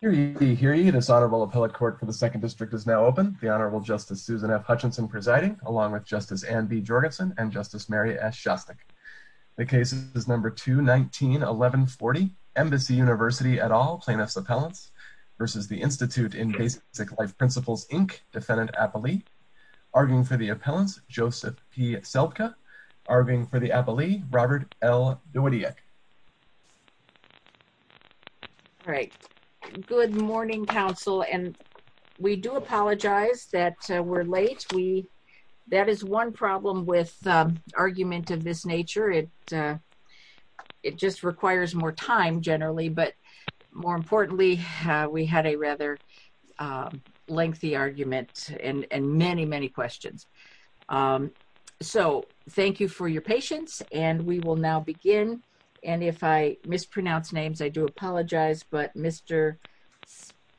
Hear ye, hear ye. This Honorable Appellate Court for the 2nd District is now open. The Honorable Justice Susan F. Hutchinson presiding, along with Justice Anne B. Jorgensen and Justice Mary S. Shostak. The case is number 2-19-11-40. Embassy University et al. plaintiffs' appellants v. The Institute in Basic Life Principles, Inc. Defendant Appellee. Arguing for the appellants, Joseph P. Seltzke. Arguing for the appellees, Robert L. Dowidiak. All right. Good morning, counsel. And we do apologize that we're late. That is one problem with arguments of this nature. It just requires more time, generally. But more importantly, we had a rather lengthy argument and many, many questions. So thank you for your patience. And we will now begin. And if I mispronounce names, I do apologize. But Mr.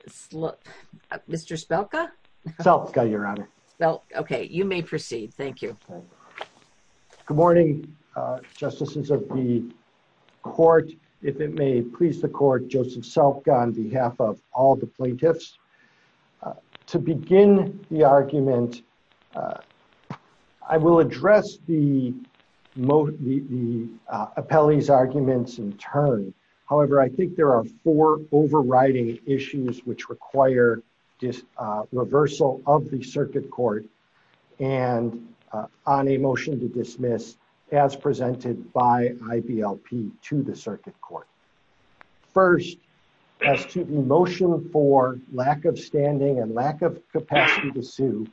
Seltzke? Seltzke, Your Honor. Okay. You may proceed. Thank you. Good morning, Justices of the Court. If it may please the Court, Joseph Seltzke on behalf of all the plaintiffs. To begin the argument, I will address the appellee's arguments in turn. However, I think there are four overriding issues which require reversal of the circuit court and on a motion to dismiss as presented by IBLP to the circuit court. First, as to the motion for lack of standing and lack of capacity to sue,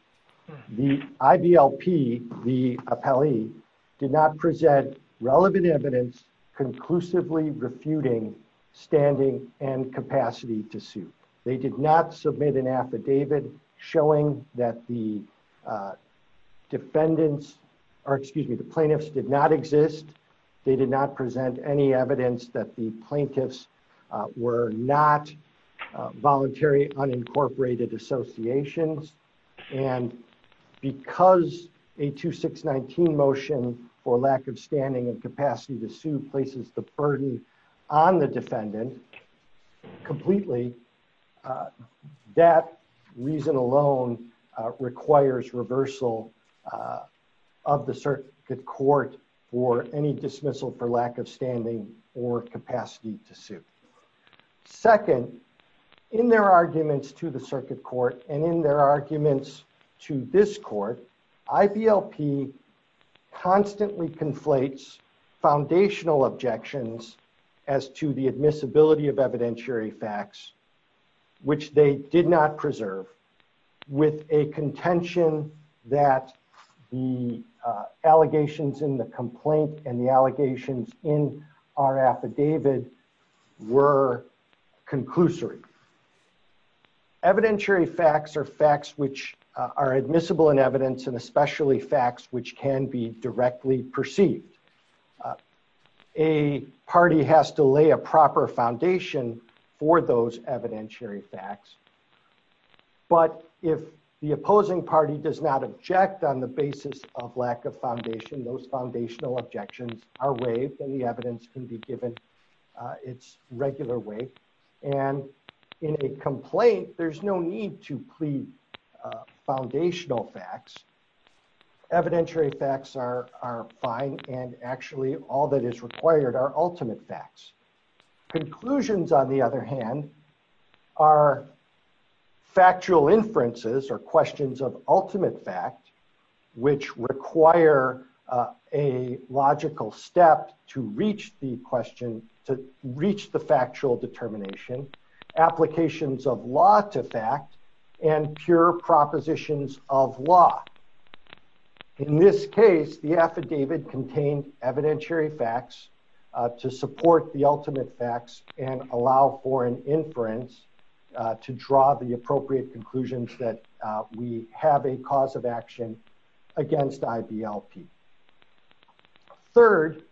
the IBLP, the appellee, did not present relevant evidence conclusively refuting standing and capacity to sue. They did not submit an affidavit showing that the defendants, or excuse me, the plaintiffs did not exist. They did not present any evidence that the plaintiffs were not voluntary unincorporated associations. And because a 2619 motion for lack of standing and capacity to sue places the burden on the defendant completely, that reason alone requires reversal of the circuit court for any dismissal for lack of standing or capacity to sue. Second, in their arguments to the circuit court and in their arguments to this court, IBLP constantly conflates foundational objections as to the admissibility of evidentiary facts which they did not preserve with a contention that the allegations in the complaint and the allegations in our affidavit were conclusory. Evidentiary facts are facts which are admissible in evidence and especially facts which can be directly perceived. A party has to lay a proper foundation for those evidentiary facts. But if the opposing party does not object on the basis of lack of foundation, those foundational objections are waived and the evidence can be given its regular way. And in a complaint, there's no need to plead foundational facts. Evidentiary facts are fine and actually all that is required are ultimate facts. Conclusions, on the other hand, are factual inferences or questions of ultimate fact which require a logical step to reach the question, to reach the factual determination, applications of law to fact, and pure propositions of law. In this case, the affidavit contained evidentiary facts to support the ultimate facts and allow for an inference to draw the appropriate conclusions that we have a cause of action against IBLP. Third,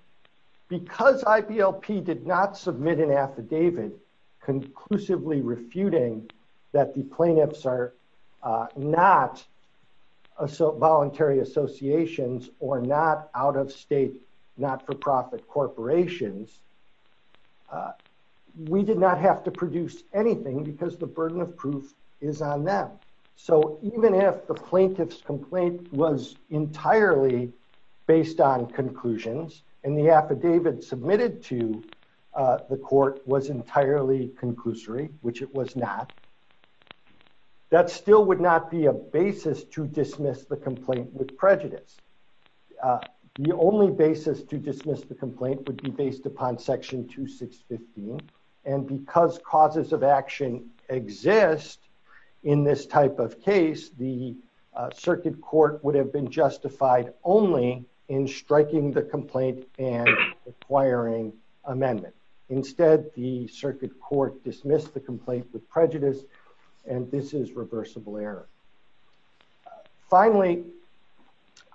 because IBLP did not submit an affidavit conclusively refuting that the plaintiffs are not voluntary associations or not out-of-state, not-for-profit corporations, we did not have to produce anything because the burden of proof is on them. So even if the plaintiff's complaint was entirely based on conclusions and the affidavit submitted to the court was entirely conclusory, which it was not, that still would not be a basis to dismiss the complaint with prejudice. The only basis to dismiss the complaint would be based upon Section 2615. And because causes of action exist in this type of case, the circuit court would have been justified only in striking the complaint and acquiring amendments. Instead, the circuit court dismissed the complaint with prejudice and this is reversible error. Finally,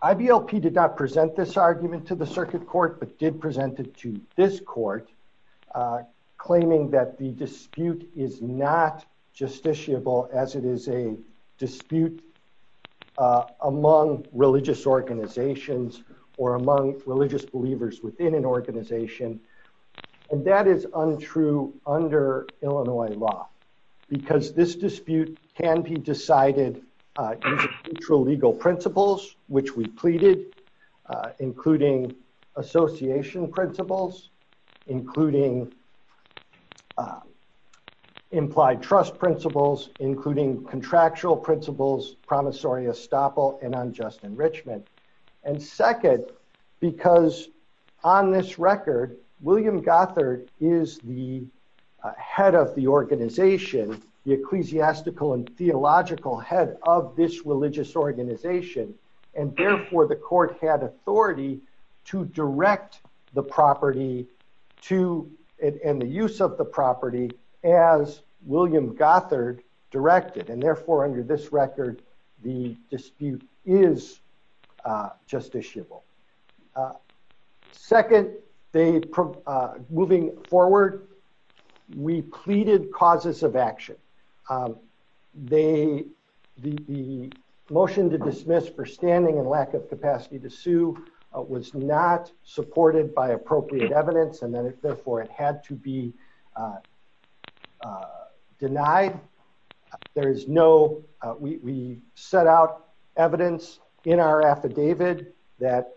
IBLP did not present this argument to the circuit court, but did present it to this court, claiming that the dispute is not justiciable as it is a dispute among religious organizations or among religious believers within an organization. And that is untrue under Illinois law because this dispute can be decided through legal principles, which we pleaded, including association principles, including implied trust principles, including contractual principles, promissory estoppel, and unjust enrichment. And second, because on this record, William Gothard is the head of the organization, the ecclesiastical and theological head of this religious organization, and therefore the court had authority to direct the property and the use of the property as William Gothard directed, and therefore under this record, the dispute is justiciable. Second, moving forward, we pleaded causes of action. The motion to dismiss for standing and lack of capacity to sue was not supported by appropriate evidence and therefore it had to be denied. We set out evidence in our affidavit that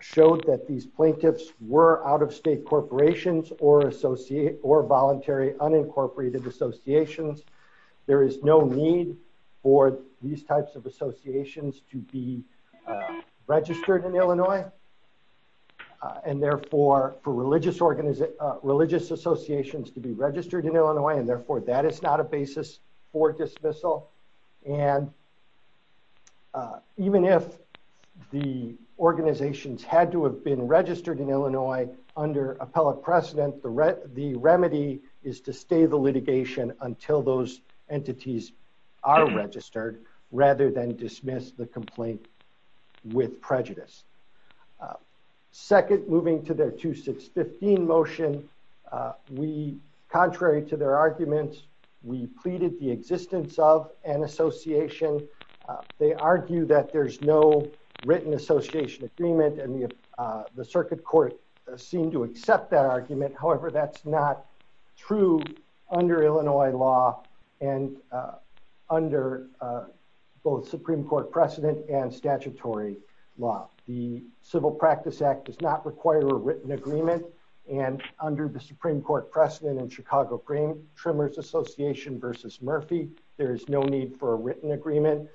showed that these plaintiffs were out-of-state corporations or voluntary unincorporated associations. There is no need for these types of associations to be registered in Illinois, and therefore for religious associations to be registered in Illinois, and therefore that is not a basis for dismissal. And even if the organizations had to have been registered in Illinois under appellate precedent, the remedy is to stay the litigation until those entities are registered, rather than dismiss the complaint with prejudice. Second, moving to their 2615 motion, we, contrary to their arguments, we pleaded the existence of an association. They argue that there's no written association agreement, and the circuit court seemed to accept that argument. However, that's not true under Illinois law and under both Supreme Court precedent and statutory law. The Civil Practice Act does not require a written agreement, and under the Supreme Court precedent in Chicago Trimmers Association v. Murphy, there is no need for a written agreement,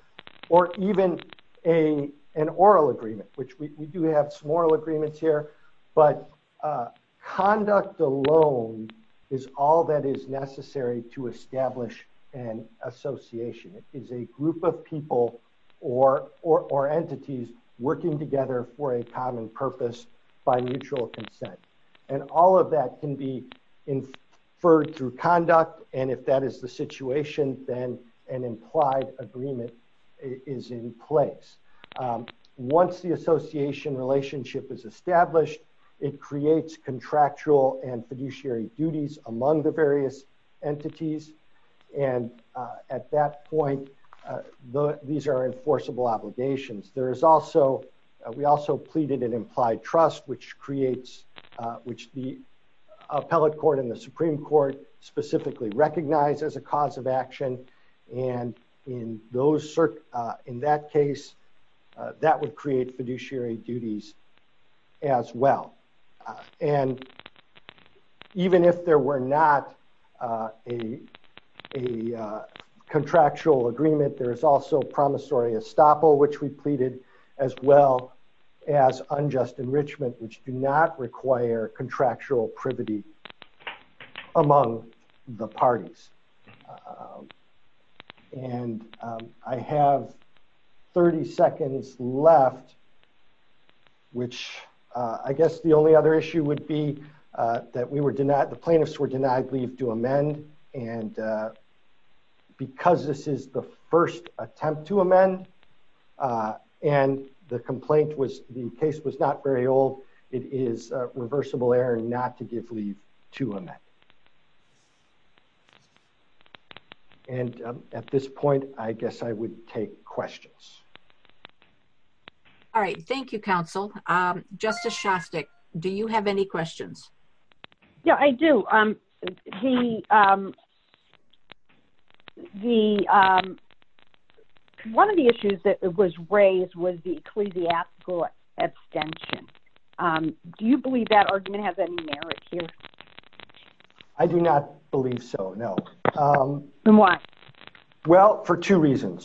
or even an oral agreement, which we do have some oral agreements here, but conduct alone is all that is necessary to establish an association. It is a group of people or entities working together for a common purpose by mutual consent, and all of that can be inferred through conduct, and if that is the situation, then an implied agreement is in place. Once the association relationship is established, it creates contractual and fiduciary duties among the various entities, and at that point, these are enforceable obligations. We also pleaded an implied trust, which the appellate court and the Supreme Court specifically recognize as a cause of action, and in that case, that would create fiduciary duties as well. And even if there were not a contractual agreement, there is also promissory estoppel, which we pleaded, as well as unjust enrichment, which do not require contractual privity among the parties. And I have 30 seconds left, which I guess the only other issue would be that the plaintiffs were denied leave to amend, and because this is the first attempt to amend, and the case was not very old, it is reversible error not to give leave to amend. And at this point, I guess I would take questions. All right, thank you, counsel. Justice Shostak, do you have any questions? Yeah, I do. One of the issues that was raised was the ecclesiastical abstention. Do you believe that argument has any merit here? I do not believe so, no. Then why? Because the notion of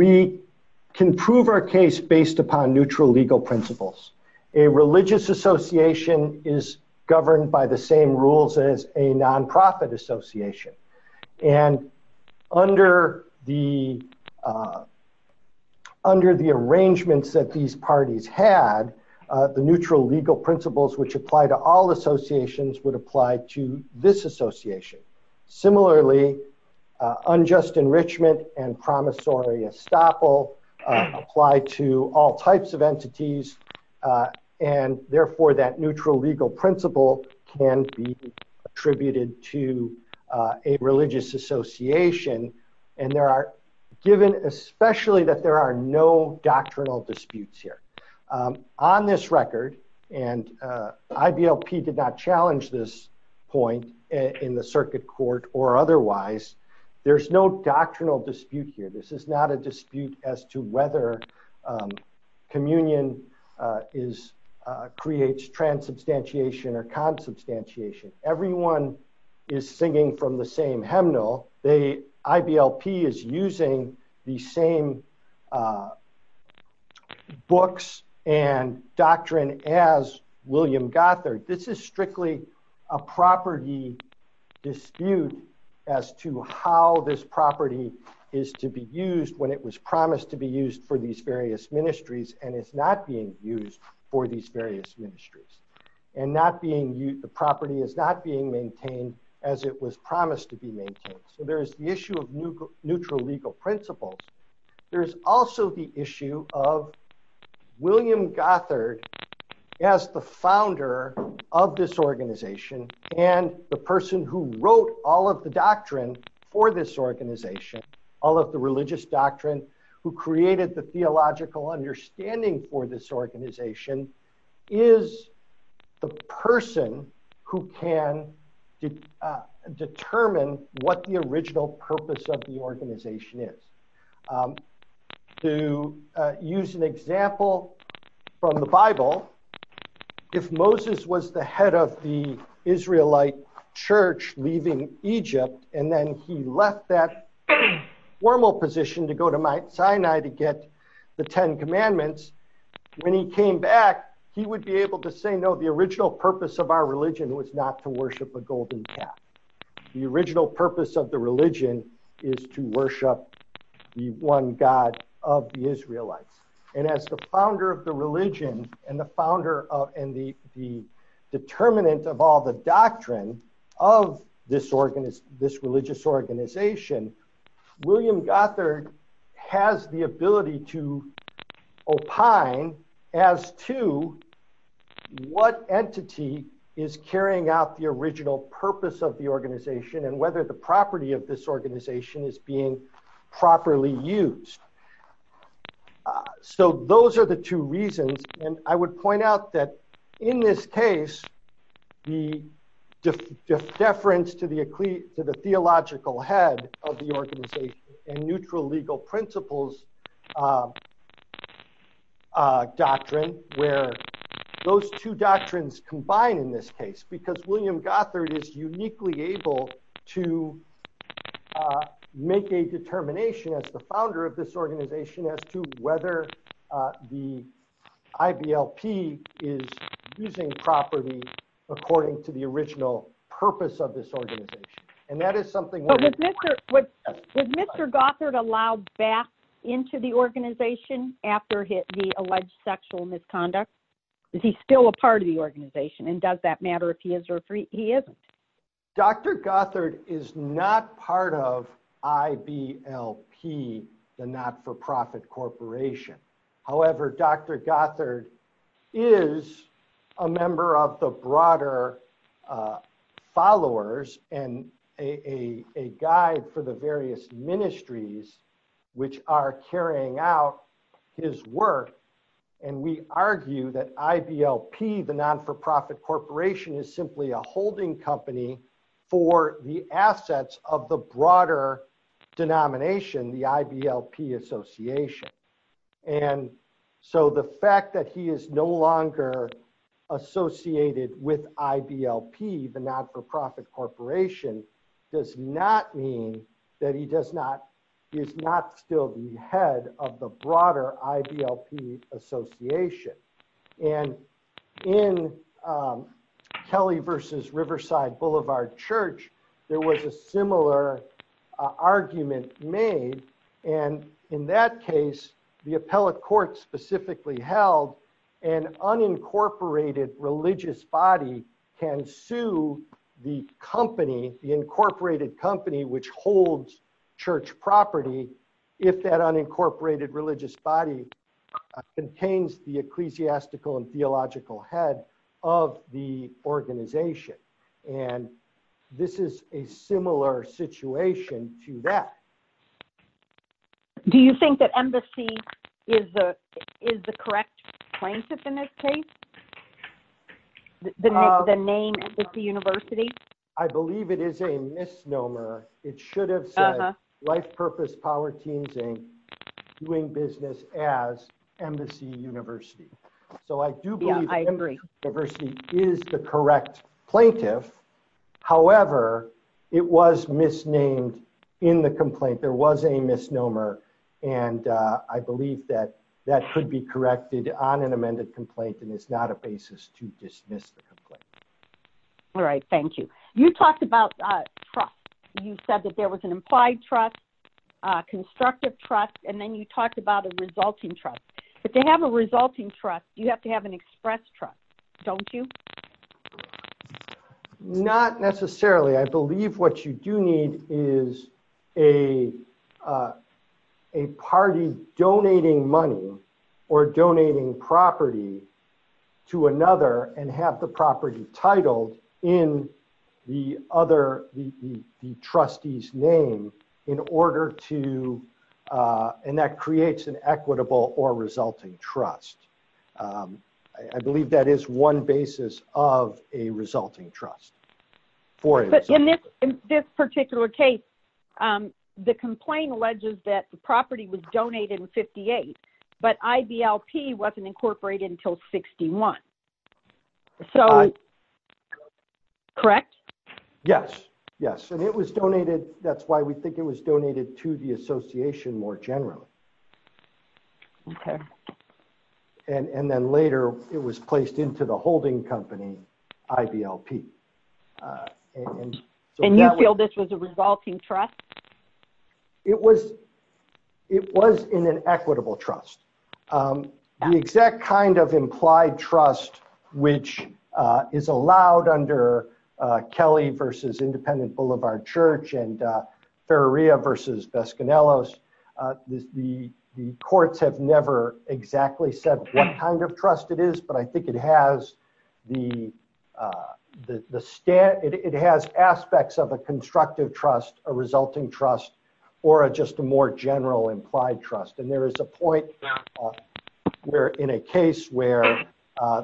a contractual agreement, which is a case of mutual obligation, which applies to all associations, would apply to this association. Similarly, unjust enrichment and promissory estoppel apply to all types of entities, and therefore that neutral legal principle can be attributed to a religious association. And there are given, especially that there are no doctrinal disputes here. On this record, and IBLP did not challenge this point in the circuit court or otherwise, there's no doctrinal dispute here. This is not a dispute as to whether communion creates transubstantiation or consubstantiation. Everyone is singing from the same hymnal. IBLP is using the same books and doctrine as William Gothard. This is strictly a property dispute as to how this property is to be used when it was promised to be used for these various ministries, and it's not being used for these various ministries. And the property is not being maintained as it was promised to be maintained. So there's the issue of neutral legal principles. There's also the issue of William Gothard as the founder of this organization and the person who wrote all of the doctrine for this organization, all of the religious doctrine, who created the theological understanding for this organization, is the person who can determine what the original purpose of the organization is. To use an example from the Bible, if Moses was the head of the Israelite church leaving Egypt and then he left that formal position to go to Sinai to get the Ten Commandments, when he came back, he would be able to say, no, the original purpose of our religion was not to worship a golden calf. The original purpose of the religion is to worship the one God of the Israelites. And as the founder of the religion and the determinant of all the doctrine of this religious organization, William Gothard has the ability to opine as to what entity is carrying out the original purpose of the organization and whether the property of this organization is being properly used. So those are the two reasons. And I would point out that in this case, the deference to the theological head of the organization and neutral legal principles doctrine, where those two doctrines combine in this case, because William Gothard is uniquely able to make a determination as the founder of this organization as to whether the IBLP is using property according to the original purpose of this organization. Was Mr. Gothard allowed back into the organization after the alleged sexual misconduct? Is he still a part of the organization and does that matter if he is or he isn't? Dr. Gothard is not part of IBLP, the not for profit corporation. However, Dr. Gothard is a member of the broader followers and a guide for the various ministries, which are carrying out his work. And we argue that IBLP, the not for profit corporation, is simply a holding company for the assets of the broader denomination, the IBLP association. And so the fact that he is no longer associated with IBLP, the not for profit corporation, does not mean that he is not still the head of the broader IBLP association. And in Kelly versus Riverside Boulevard Church, there was a similar argument made. And in that case, the appellate court specifically held an unincorporated religious body can sue the company, the incorporated company, which holds church property, if that unincorporated religious body contains the ecclesiastical and theological head of the organization. And this is a similar situation to that. Do you think that Embassy is the correct plaintiff in this case? The name Embassy University? I believe it is a misnomer. It should have said Life Purpose Polyteens Inc. doing business as Embassy University. So I do believe that Embassy University is the correct plaintiff. However, it was misnamed in the complaint. There was a misnomer. And I believe that that should be corrected on an amended complaint. And it's not a basis to dismiss the complaint. All right, thank you. You talked about trust. You said that there was an implied trust, constructive trust, and then you talked about a resulting trust. If they have a resulting trust, you have to have an express trust, don't you? Not necessarily. I believe what you do need is a party donating money or donating property to another and have the property title in the other, the trustee's name in order to, and that creates an equitable or resulting trust. I believe that is one basis of a resulting trust. In this particular case, the complaint alleges that the property was donated in 58, but IBLP wasn't incorporated until 61. Correct? Yes, yes. And it was donated. That's why we think it was donated to the association more generally. And then later it was placed into the holding company IBLP. And you feel this was a resulting trust? It was in an equitable trust. The exact kind of implied trust which is allowed under Kelly versus Independent Boulevard Church and Ferraria versus Bescanelos, the courts have never exactly said what kind of trust it is, but I think it has aspects of a constructive trust, a resulting trust, or just a more general implied trust. And there is a point in a case where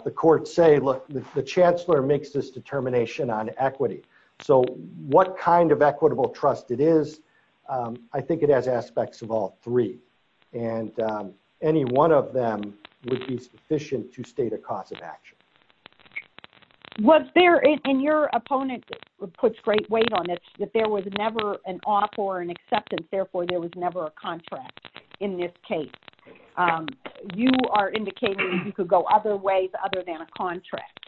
the courts say, look, the chancellor makes this determination on equity. So what kind of equitable trust it is, I think it has aspects of all three. And any one of them would be sufficient to state a cause of action. And your opponent puts great weight on this, that there was never an offer or an acceptance, therefore there was never a contract in this case. You are indicating you could go other ways other than a contract.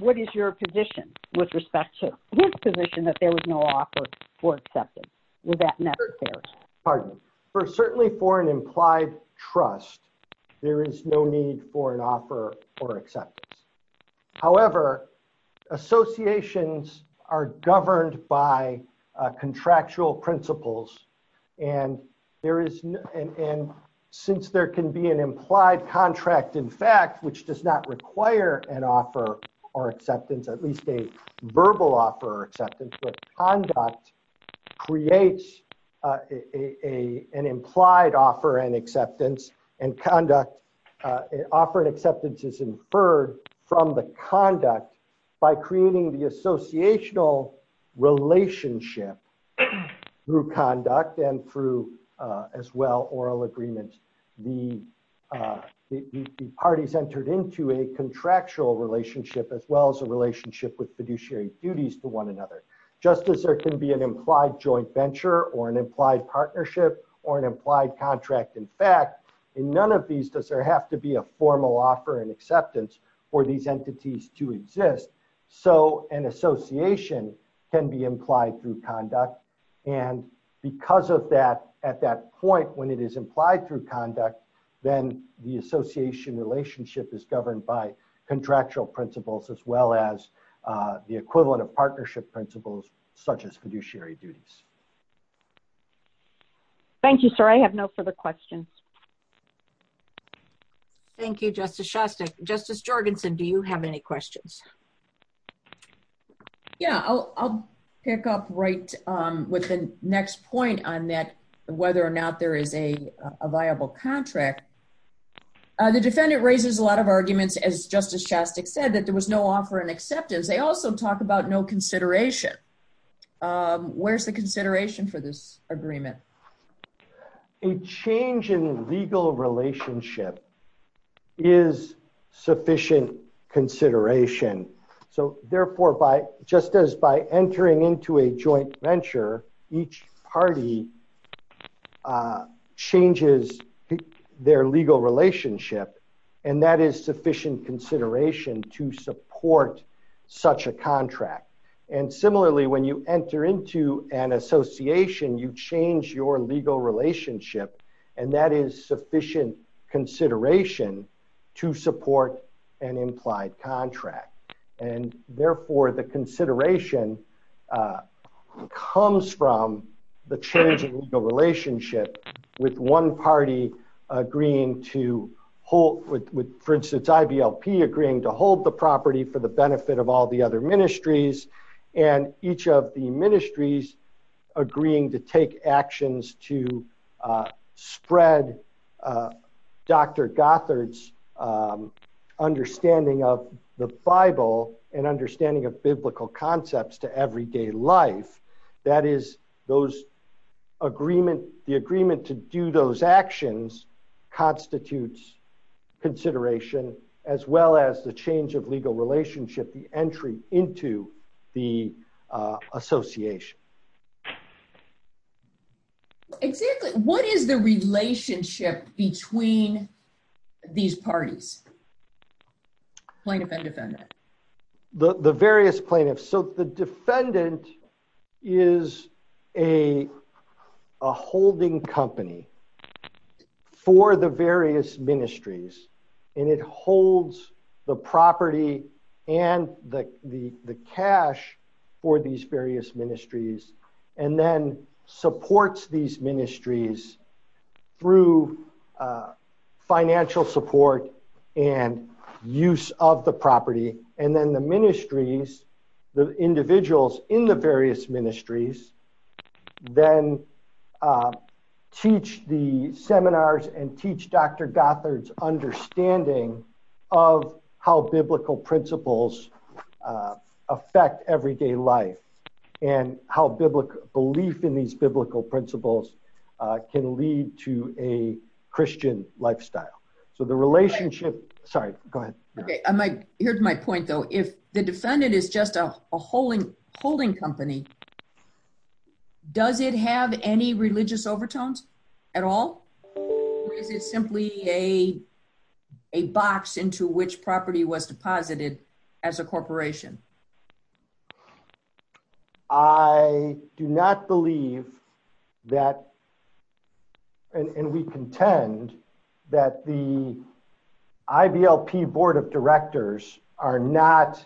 What is your position with respect to this position that there was no offer or acceptance? Certainly for an implied trust, there is no need for an offer or acceptance. There is no need for an offer or acceptance. In fact, in none of these does there have to be a formal offer and acceptance for these entities to exist. So an association can be implied through conduct. And because of that, at that point when it is implied through conduct, then the association relationship is governed by contractual principles as well as the equivalent of partnership principles such as fiduciary duties. Thank you, sir. I have no further questions. Thank you, Justice Shostak. Justice Jorgensen, do you have any questions? Yeah, I'll pick up right with the next point on that, whether or not there is a viable contract. The defendant raises a lot of arguments, as Justice Shostak said, that there was no offer and acceptance. They also talk about no consideration. Where's the consideration for this agreement? A change in legal relationship is sufficient consideration. So therefore, just as by entering into a joint venture, each party changes their legal relationship and that is sufficient consideration to support such a contract. And similarly, when you enter into an association, you change your legal relationship and that is sufficient consideration to support an implied contract. And therefore, the consideration comes from the change in the relationship with one party agreeing to hold, for instance, IVLP agreeing to hold the property for the benefit of all the other ministries and each of the ministries agreeing to take actions to spread Dr. Gothard's understanding of the Bible and understanding of biblical concepts to everyday life. That is, the agreement to do those actions constitutes consideration, as well as the change of legal relationship, the entry into the association. What is the relationship between these parties? The various plaintiffs. So the defendant is a holding company for the various ministries and it holds the property and the cash for these various ministries and then supports these ministries through financial support and use of the property and then the ministries, the individuals in the various ministries, then teach the seminars and teach Dr. Gothard's understanding of how biblical principles affect everyday life and how belief in these biblical principles can lead to a Christian lifestyle. So the relationship. Sorry, go ahead. Okay, here's my point, though. If the defendant is just a holding company, does it have any religious overtones at all, or is it simply a box into which property was deposited as a corporation? I do not believe that and we contend that the IVLP board of directors are not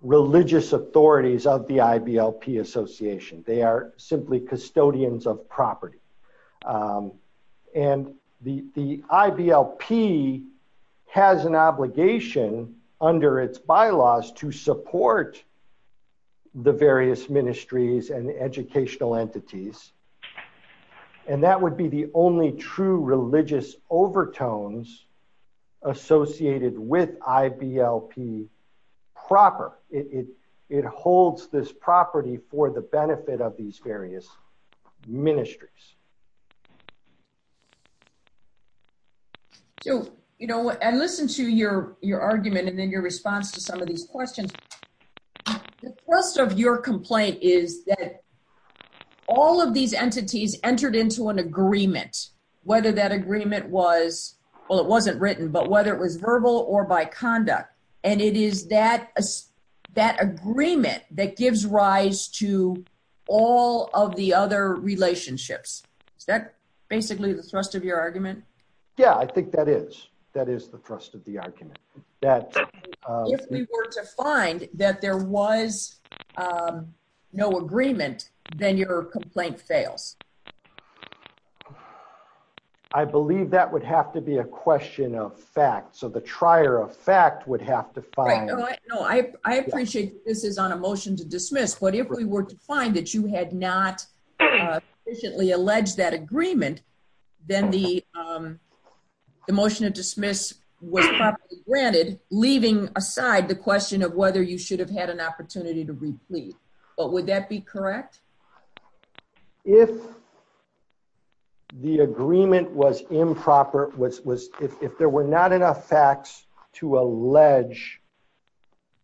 religious authorities of the IVLP association. They are simply custodians of property. And the IVLP has an obligation under its bylaws to support the various ministries and educational entities. And that would be the only true religious overtones associated with IVLP proper. It holds this property for the benefit of these various ministries. So, you know, and listen to your argument and then your response to some of these questions. The thrust of your complaint is that all of these entities entered into an agreement, whether that agreement was, well, it wasn't written, but whether it was verbal or by conduct, and it is that that agreement that gives rise to all of the other relationships. That's basically the thrust of your argument? Yeah, I think that is. That is the thrust of the argument. If we were to find that there was no agreement, then your complaint fails. I believe that would have to be a question of fact. So the trier of fact would have to find. I appreciate this is on a motion to dismiss, but if we were to find that you had not sufficiently alleged that agreement, then the circuit court would have been granted, leaving aside the question of whether you should have had an opportunity to recede. But would that be correct? If the agreement was improper, if there were not enough facts to allege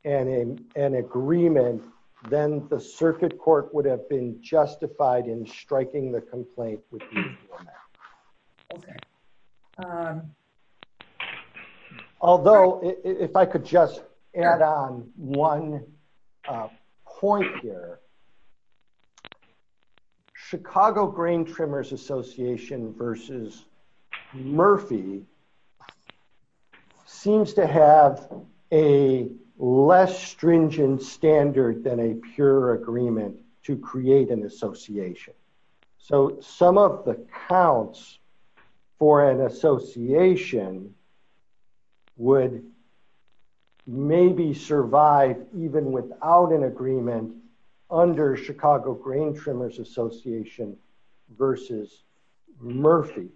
an agreement, then the circuit court would have been justified in striking the complaint. If I could just add on one point here. Chicago Brain Trimmers Association versus Murphy seems to have a less stringent standard than a pure agreement to create an association. So some of the counts for an association would maybe survive even without an agreement under Chicago Brain Trimmers Association versus Murphy.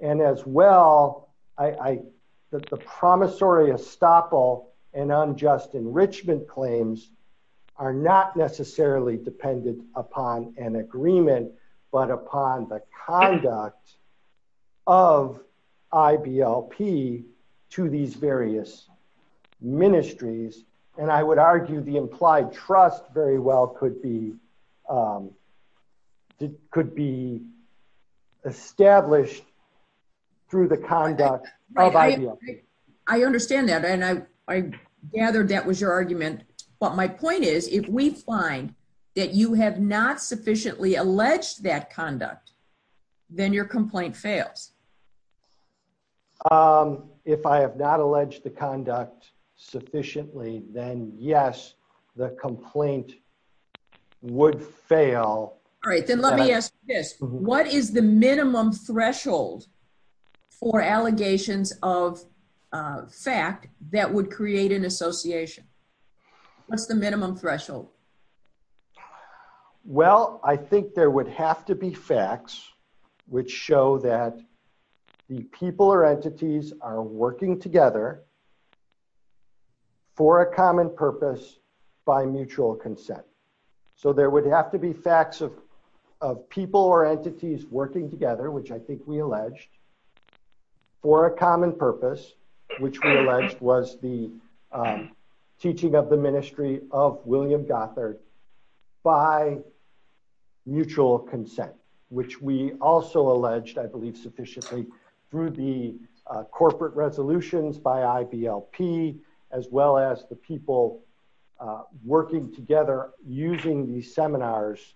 And as well, the promissory estoppel and unjust enrichment claims are not necessarily dependent upon an agreement, but upon the conduct of IBLP to these various ministries. And I would argue the implied trust very well could be established through the conduct of IBLP. I understand that. And I gathered that was your argument. But my point is, if we find that you have not sufficiently alleged that conduct, then your complaint fails. If I have not alleged the conduct sufficiently, then yes, the complaint would fail. Great. Then let me ask this. What is the minimum threshold for allegations of fact that would create an association? What's the minimum threshold? Well, I think there would have to be facts which show that the people or entities are working together for a common purpose by mutual consent. So there would have to be facts of people or entities working together, which I think we alleged, for a common purpose, which we alleged was the teaching of the ministry of William Dockler by mutual consent, which we also alleged, I believe, sufficiently through the corporate resolutions by IBLP, as well as the people working together using these seminars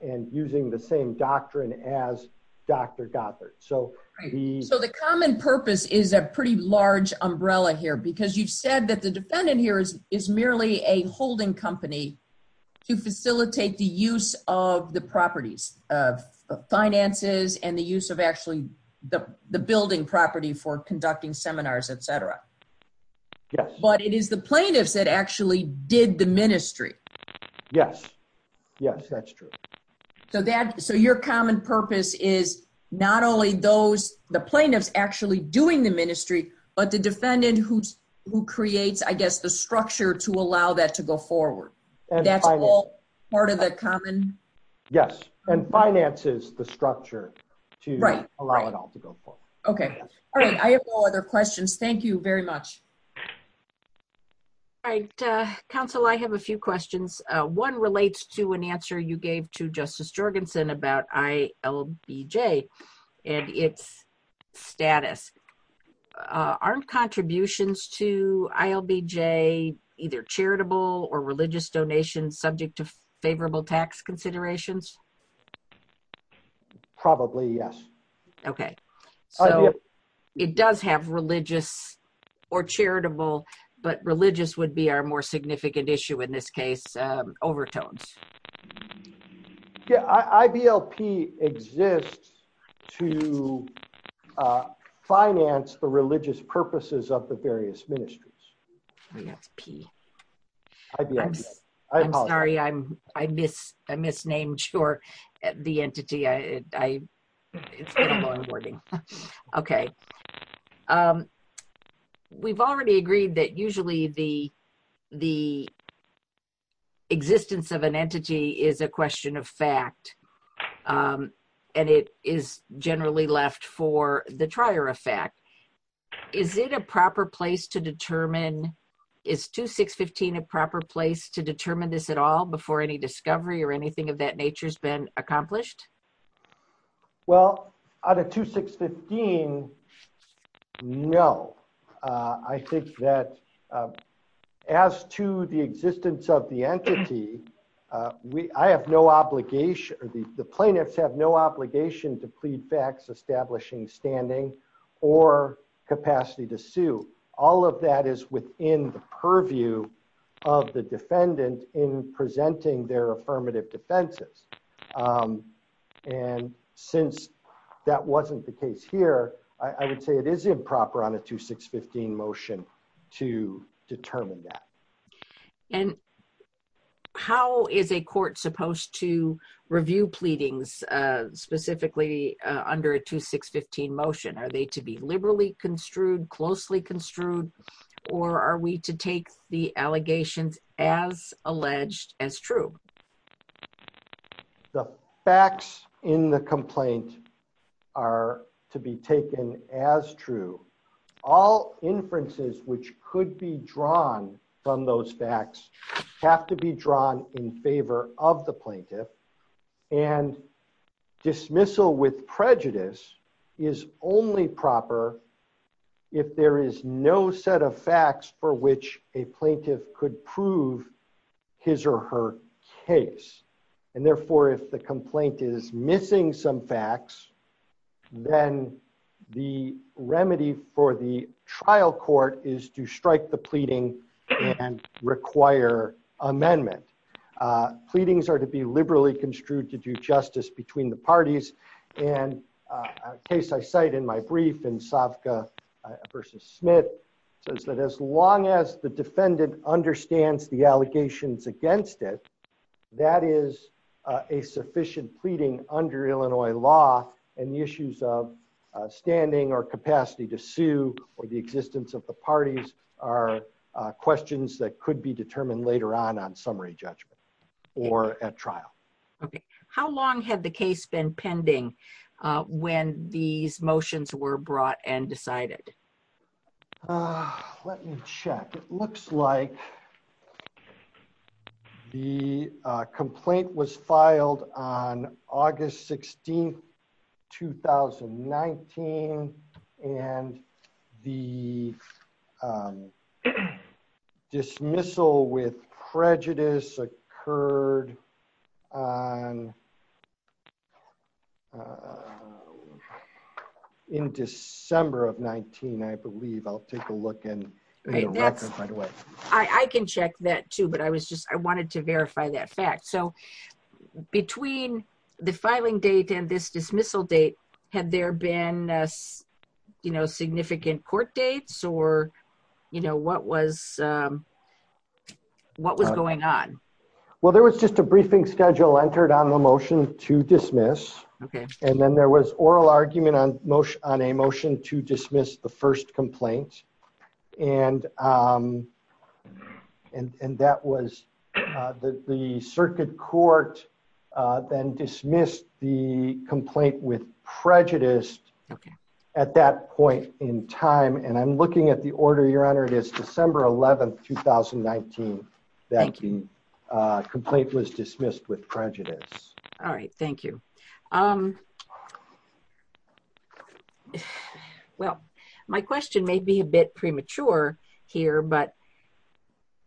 and using the same doctrine as Dr. Dockler. So the common purpose is a pretty large umbrella here because you said that the defendant here is merely a holding company to facilitate the use of the properties, finances, and the use of actually the building property for conducting seminars, etc. But it is the plaintiffs that actually did the ministry. Yes. Yes, that's true. So your common purpose is not only the plaintiffs actually doing the ministry, but the defendant who creates, I guess, the structure to allow that to go forward. That's all part of the common... Yes, and finances the structure to allow it all to go forward. Okay. All right. I have no other questions. Thank you very much. All right. Counsel, I have a few questions. One relates to an answer you gave to Justice Jorgensen about ILBJ and its status. Are contributions to ILBJ either charitable or religious donations subject to favorable tax considerations? Probably, yes. Okay. So it does have religious or charitable, but religious would be our more significant issue in this case, overtones. Yes. IBLP exists to finance the religious purposes of the various ministries. IBLP. I'm sorry. I misnamed short the entity. It's very long wording. Okay. We've already agreed that usually the existence of an entity is a question of fact, and it is generally left for the trier of fact. Is 2615 a proper place to determine this at all before any discovery or anything of that nature has been accomplished? Well, out of 2615, no. I think that as to the existence of the entity, I have no obligation, the plaintiffs have no obligation to plead facts establishing standing or capacity to sue. All of that is within the purview of the defendant in presenting their affirmative defenses. And since that wasn't the case here, I would say it is improper on a 2615 motion to determine that. And how is a court supposed to review pleadings, specifically under a 2615 motion? Are they to be liberally construed, closely construed, or are we to take the allegations as alleged as true? The facts in the complaint are to be taken as true. All inferences which could be drawn from those facts have to be drawn in favor of the plaintiff. And dismissal with prejudice is only proper if there is no set of facts for which a plaintiff could prove his or her case. And therefore, if the complaint is missing some facts, then the remedy for the trial court is to strike the pleading and require amendment. Pleadings are to be liberally construed to do justice between the parties. And a case I cite in my brief in Savka v. Smith says that as long as the defendant understands the allegations against it, that is a sufficient pleading under Illinois law and the issues of standing or capacity to sue or the existence of the parties are questions that could be determined later on on summary judgment or at trial. How long had the case been pending when these motions were brought and decided? Let me check. It looks like the complaint was filed on August 16, 2019, and the dismissal with prejudice occurred on in December of 19, I believe. I'll take a look and find a way. I can check that too, but I was just I wanted to verify that fact. So between the filing date and this dismissal date, had there been, you know, significant court dates or, you know, what was What was going on? Well, there was just a briefing schedule entered on the motion to dismiss. Okay. And then there was oral argument on a motion to dismiss the first complaint and And that was that the circuit court then dismissed the complaint with prejudice at that point in time. And I'm looking at the order, Your Honor, it is December 11, 2019 That the complaint was dismissed with prejudice. All right. Thank you. Well, my question may be a bit premature here, but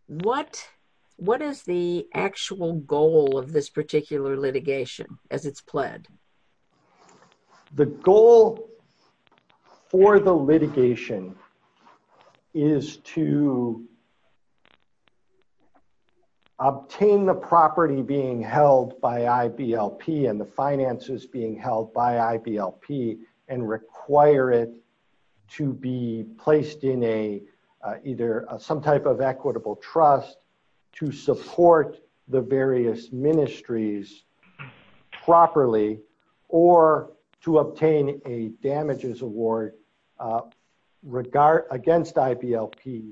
What, what is the actual goal of this particular litigation as it's pled? The goal For the litigation. Is to Obtain the property being held by IBLP and the finances being held by IBLP and require it to be placed in a either some type of equitable trust to support the various ministries properly or to obtain a damages award. Against IBLP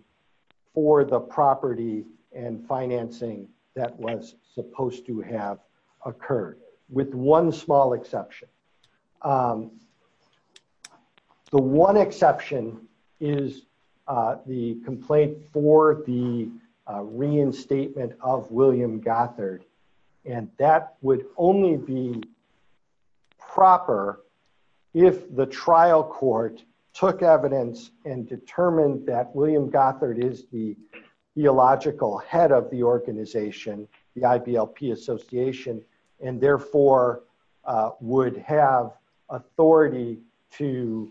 for the property and financing that was supposed to have occurred with one small exception. The one exception is the complaint for the reinstatement of William Gothard and that would only be Proper if the trial court took evidence and determined that William Gothard is the theological head of the organization, the IBLP association and therefore would have authority to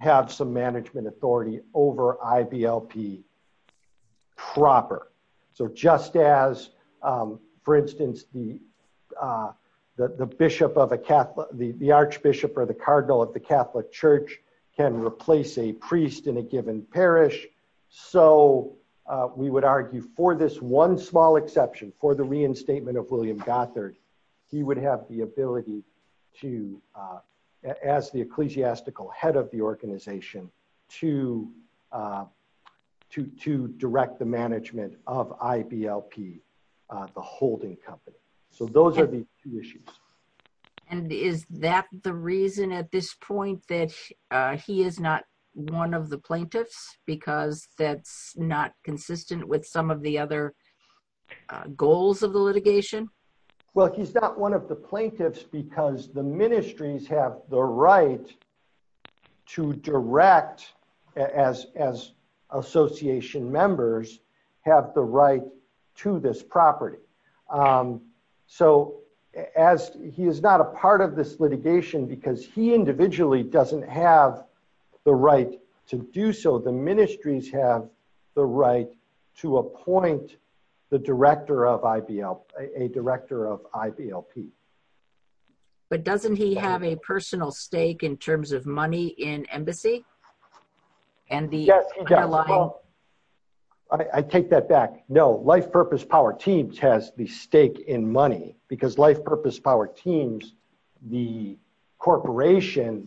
Have some management authority over IBLP Proper so just as, for instance, the Bishop of a Catholic, the Archbishop or the Cardinal of the Catholic Church can replace a priest in a given parish. So we would argue for this one small exception for the reinstatement of William Gothard, he would have the ability to as the ecclesiastical head of the organization to To direct the management of IBLP the holding company. So those are the two issues. And is that the reason at this point that he is not one of the plaintiffs, because that's not consistent with some of the other Goals of the litigation. Well, he's not one of the plaintiffs, because the ministries have the right To direct as association members have the right to this property. So as he is not a part of this litigation, because he individually doesn't have the right to do so. The ministries have the right to appoint the director of IBLP, a director of IBLP But doesn't he have a personal stake in terms of money in embassy. And the I take that back. No, Life Purpose Power Teams has the stake in money because Life Purpose Power Teams, the corporation,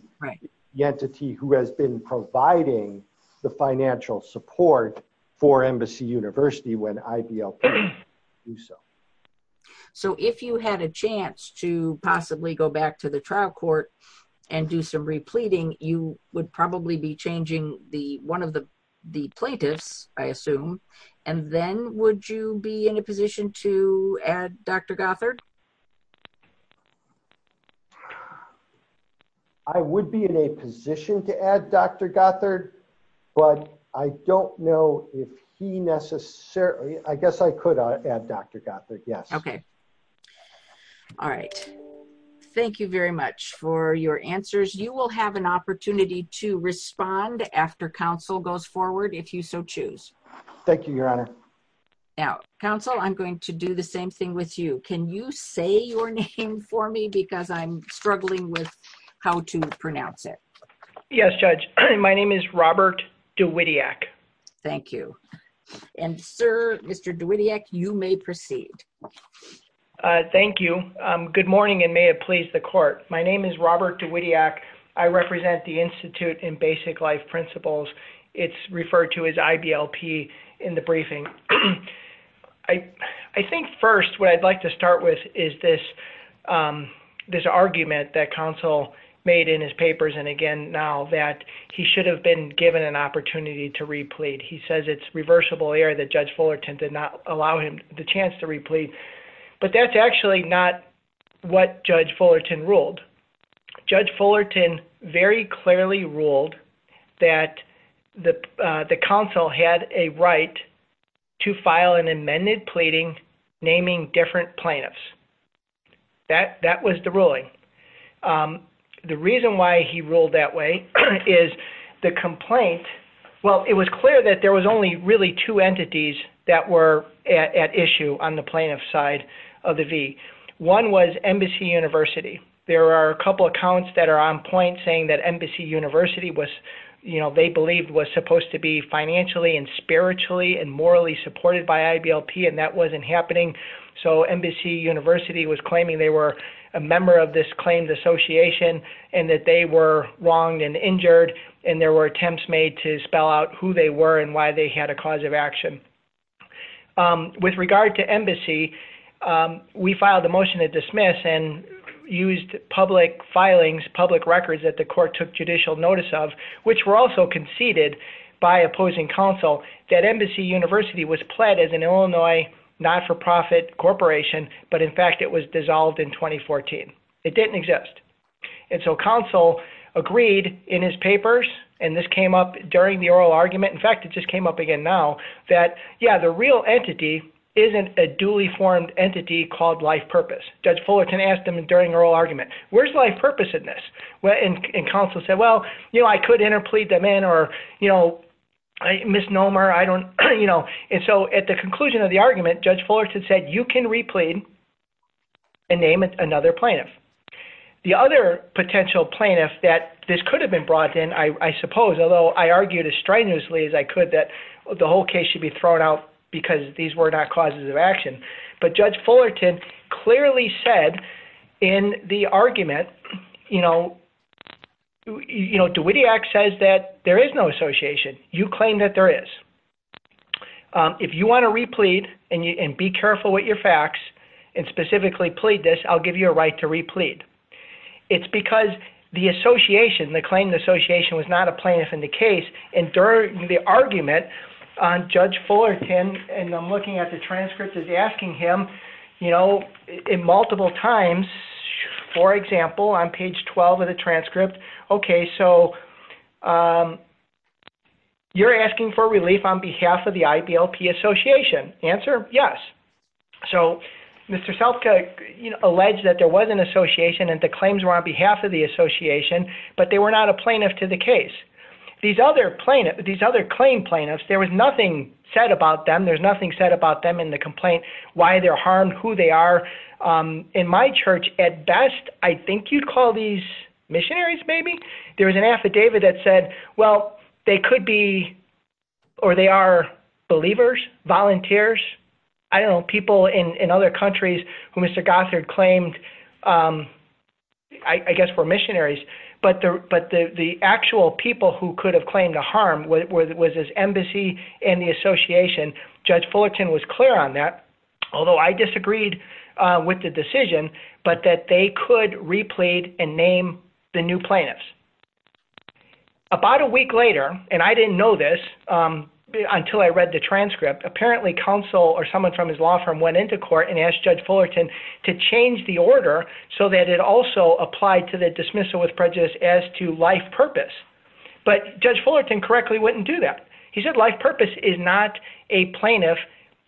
the entity who has been providing the financial support for Embassy University when IBLP So if you had a chance to possibly go back to the trial court and do some repleting you would probably be changing the one of the the plaintiffs, I assume, and then would you be in a position to add Dr. Gothard. I would be in a position to add Dr. Gothard, but I don't know if he necessarily, I guess I could add Dr. Gothard. Yes. Okay. All right. Thank you very much for your answers. You will have an opportunity to respond after counsel goes forward. If you so choose. Thank you, Your Honor. Now, counsel, I'm going to do the same thing with you. Can you say your name for me because I'm struggling with how to pronounce it. Yes, Judge. My name is Robert Dowidiak. Thank you. And, sir, Mr. Dowidiak, you may proceed. Thank you. Good morning, and may it please the court. My name is Robert Dowidiak. I represent the Institute in Basic Life Principles. It's referred to as IBLP in the briefing. I think first, what I'd like to start with is this argument that counsel made in his papers and again now that he should have been given an opportunity to replete. He says it's reversible error that Judge Fullerton did not allow him the chance to replete. But that's actually not what Judge Fullerton ruled. Judge Fullerton very clearly ruled that the counsel had a right to file an amended pleading naming different plaintiffs. That was the ruling. The reason why he ruled that way is the complaint. Well, it was clear that there was only really two entities that were at issue on the plaintiff side of the V. One was Embassy University. There are a couple accounts that are on point saying that Embassy University was, you know, they believed was supposed to be financially and spiritually and morally supported by IBLP and that wasn't happening. So, Embassy University was claiming they were a member of this claims association and that they were wronged and injured and there were attempts made to spell out who they were and why they had a cause of action. With regard to Embassy, we filed a motion to dismiss and used public filings, public records that the court took judicial notice of, which were also conceded by opposing counsel, that Embassy University was pled as an Illinois not-for-profit corporation, but in fact, it was dissolved in 2014. It didn't exist. And so counsel agreed in his papers, and this came up during the oral argument, in fact, it just came up again now, that, yeah, the real entity isn't a duly formed entity called life purpose. Judge Fullerton asked him during the oral argument, where's life purpose in this? And counsel said, well, you know, I could interplead them in or, you know, misnomer, I don't, you know, and so at the conclusion of the argument, Judge Fullerton said, you can replead and name another plaintiff. The other potential plaintiff that this could have been brought in, I suppose, although I argued as stridently as I could that the whole case should be thrown out because these were not causes of action, but Judge Fullerton clearly said in the argument, you know, you know, DeWittiac says that there is no association. You claim that there is. If you want to replead and be careful with your facts and specifically plead this, I'll give you a right to replead. It's because the association, the claim the association was not a plaintiff in the case, and during the argument, Judge Fullerton, and I'm looking at the transcript, is asking him, you know, multiple times, for example, on page 12 of the transcript, okay, so you're asking for relief on behalf of the IBLP association. The answer, yes. So Mr. Selfka alleged that there was an association and the claims were on behalf of the association, but they were not a plaintiff to the case. These other claim plaintiffs, there was nothing said about them. There's nothing said about them in the complaint, why they're harmed, who they are. In my church, at best, I think you'd call these missionaries, maybe. There was an affidavit that said, well, they could be, or they are believers, volunteers. I don't know, people in other countries who Mr. Gothard claimed, I guess were missionaries, but the actual people who could have claimed a harm was his embassy and the association. Judge Fullerton was clear on that, although I disagreed with the decision, but that they could replead and name the new plaintiffs. About a week later, and I didn't know this until I read the transcript, apparently counsel or someone from his law firm went into court and asked Judge Fullerton to change the order so that it also applied to the dismissal with prejudice as to life purpose. But Judge Fullerton correctly wouldn't do that. He said life purpose is not a plaintiff,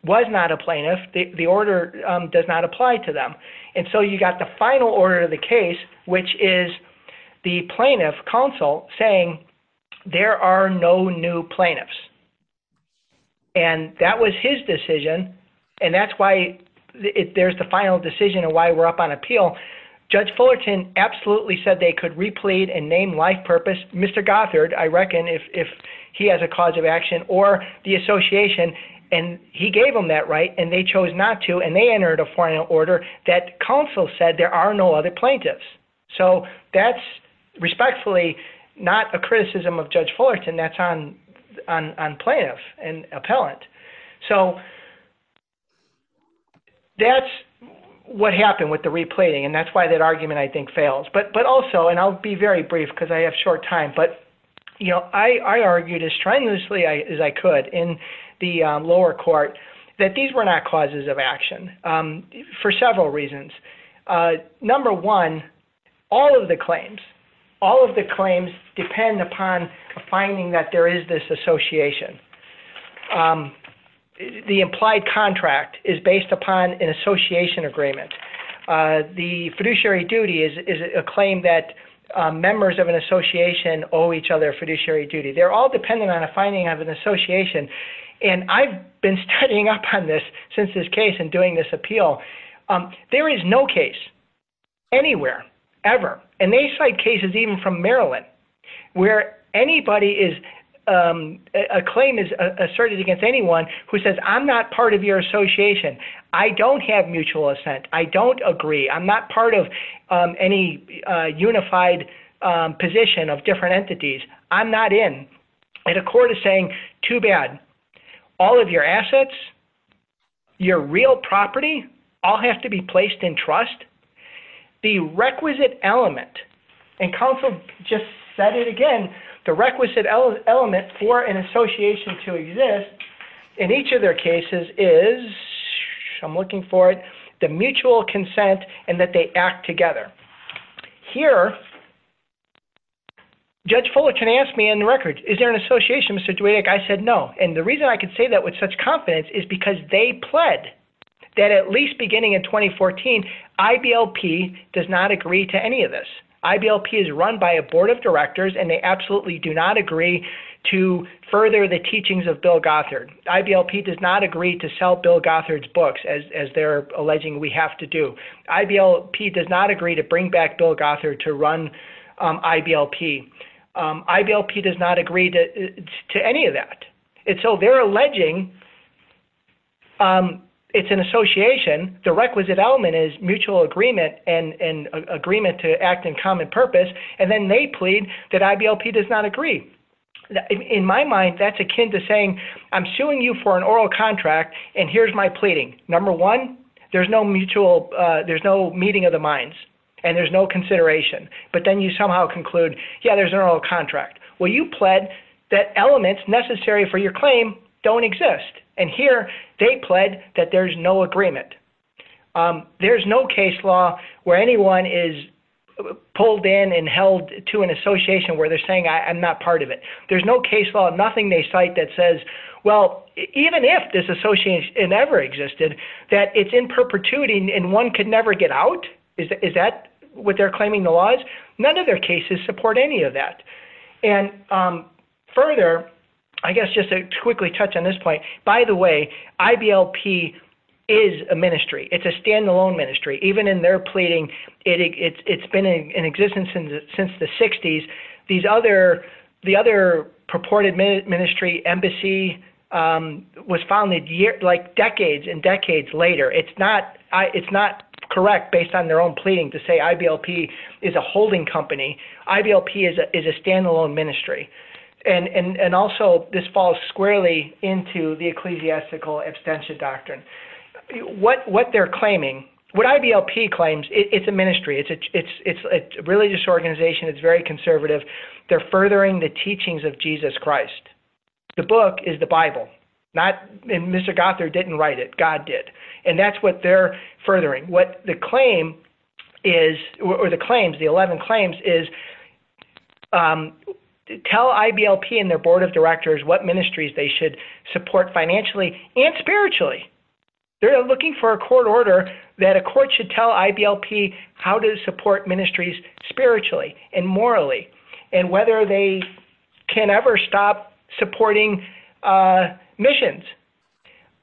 was not a plaintiff, the order does not apply to them. And so you got the final order of the case, which is the plaintiff, counsel, saying there are no new plaintiffs. And that was his decision, and that's why there's the final decision of why we're up on appeal. So Judge Fullerton absolutely said they could replead and name life purpose, Mr. Gothard, I reckon, if he has a cause of action, or the association, and he gave them that right, and they chose not to, and they entered a final order that counsel said there are no other plaintiffs. So that's respectfully not a criticism of Judge Fullerton that's on plaintiff and appellant. So that's what happened with the replating, and that's why that argument, I think, fails. But also, and I'll be very brief because I have short time, but I argued as strenuously as I could in the lower court that these were not causes of action for several reasons. Number one, all of the claims, all of the claims depend upon a finding that there is this association. The implied contract is based upon an association agreement. The fiduciary duty is a claim that members of an association owe each other fiduciary duty. They're all dependent on a finding of an association, and I've been studying up on this since this case and doing this appeal. There is no case anywhere ever, and they cite cases even from Maryland where anybody is, a claim is asserted against anyone who says I'm not part of your association. I don't have mutual assent. I don't agree. I'm not part of any unified position of different entities. I'm not in. And a court is saying, too bad. All of your assets, your real property, all have to be placed in trust. The requisite element, and counsel just said it again, the requisite element for an association to exist in each of their cases is, I'm looking for it, the mutual consent and that they act together. Here, Judge Fuller can ask me in the records, is there an association, Mr. Dweck? I said no, and the reason I can say that with such confidence is because they pled that at least beginning in 2014, IBLP does not agree to any of this. IBLP is run by a board of directors, and they absolutely do not agree to further the teachings of Bill Gothard. IBLP does not agree to sell Bill Gothard's books as they're alleging we have to do. IBLP does not agree to bring back Bill Gothard to run IBLP. IBLP does not agree to any of that. And so they're alleging it's an association, the requisite element is mutual agreement and agreement to act in common purpose, and then they plead that IBLP does not agree. In my mind, that's akin to saying I'm suing you for an oral contract, and here's my pleading. Number one, there's no meeting of the minds, and there's no consideration, but then you somehow conclude, yeah, there's an oral contract. Well, you pled that elements necessary for your claim don't exist, and here they pled that there's no agreement. There's no case law where anyone is pulled in and held to an association where they're saying I'm not part of it. There's no case law, nothing they cite that says, well, even if this association ever existed, that it's in perpetuity and one could never get out? Is that what they're claiming the law is? None of their cases support any of that. Further, I guess just to quickly touch on this point, by the way, IBLP is a ministry. It's a standalone ministry. Even in their pleading, it's been in existence since the 60s. The other purported ministry, Embassy, was founded decades and decades later. It's not correct based on their own pleading to say IBLP is a holding company. IBLP is a standalone ministry. Also, this falls squarely into the ecclesiastical extension doctrine. What they're claiming, what IBLP claims, it's a ministry. It's a religious organization. It's very conservative. They're furthering the teachings of Jesus Christ. The book is the Bible. Mr. Gothard didn't write it. God did. That's what they're furthering. What the claim is, or the claims, the 11 claims, is tell IBLP and their board of directors what ministries they should support financially and spiritually. They're looking for a court order that a court should tell IBLP how to support ministries spiritually and morally and whether they can ever stop supporting missions.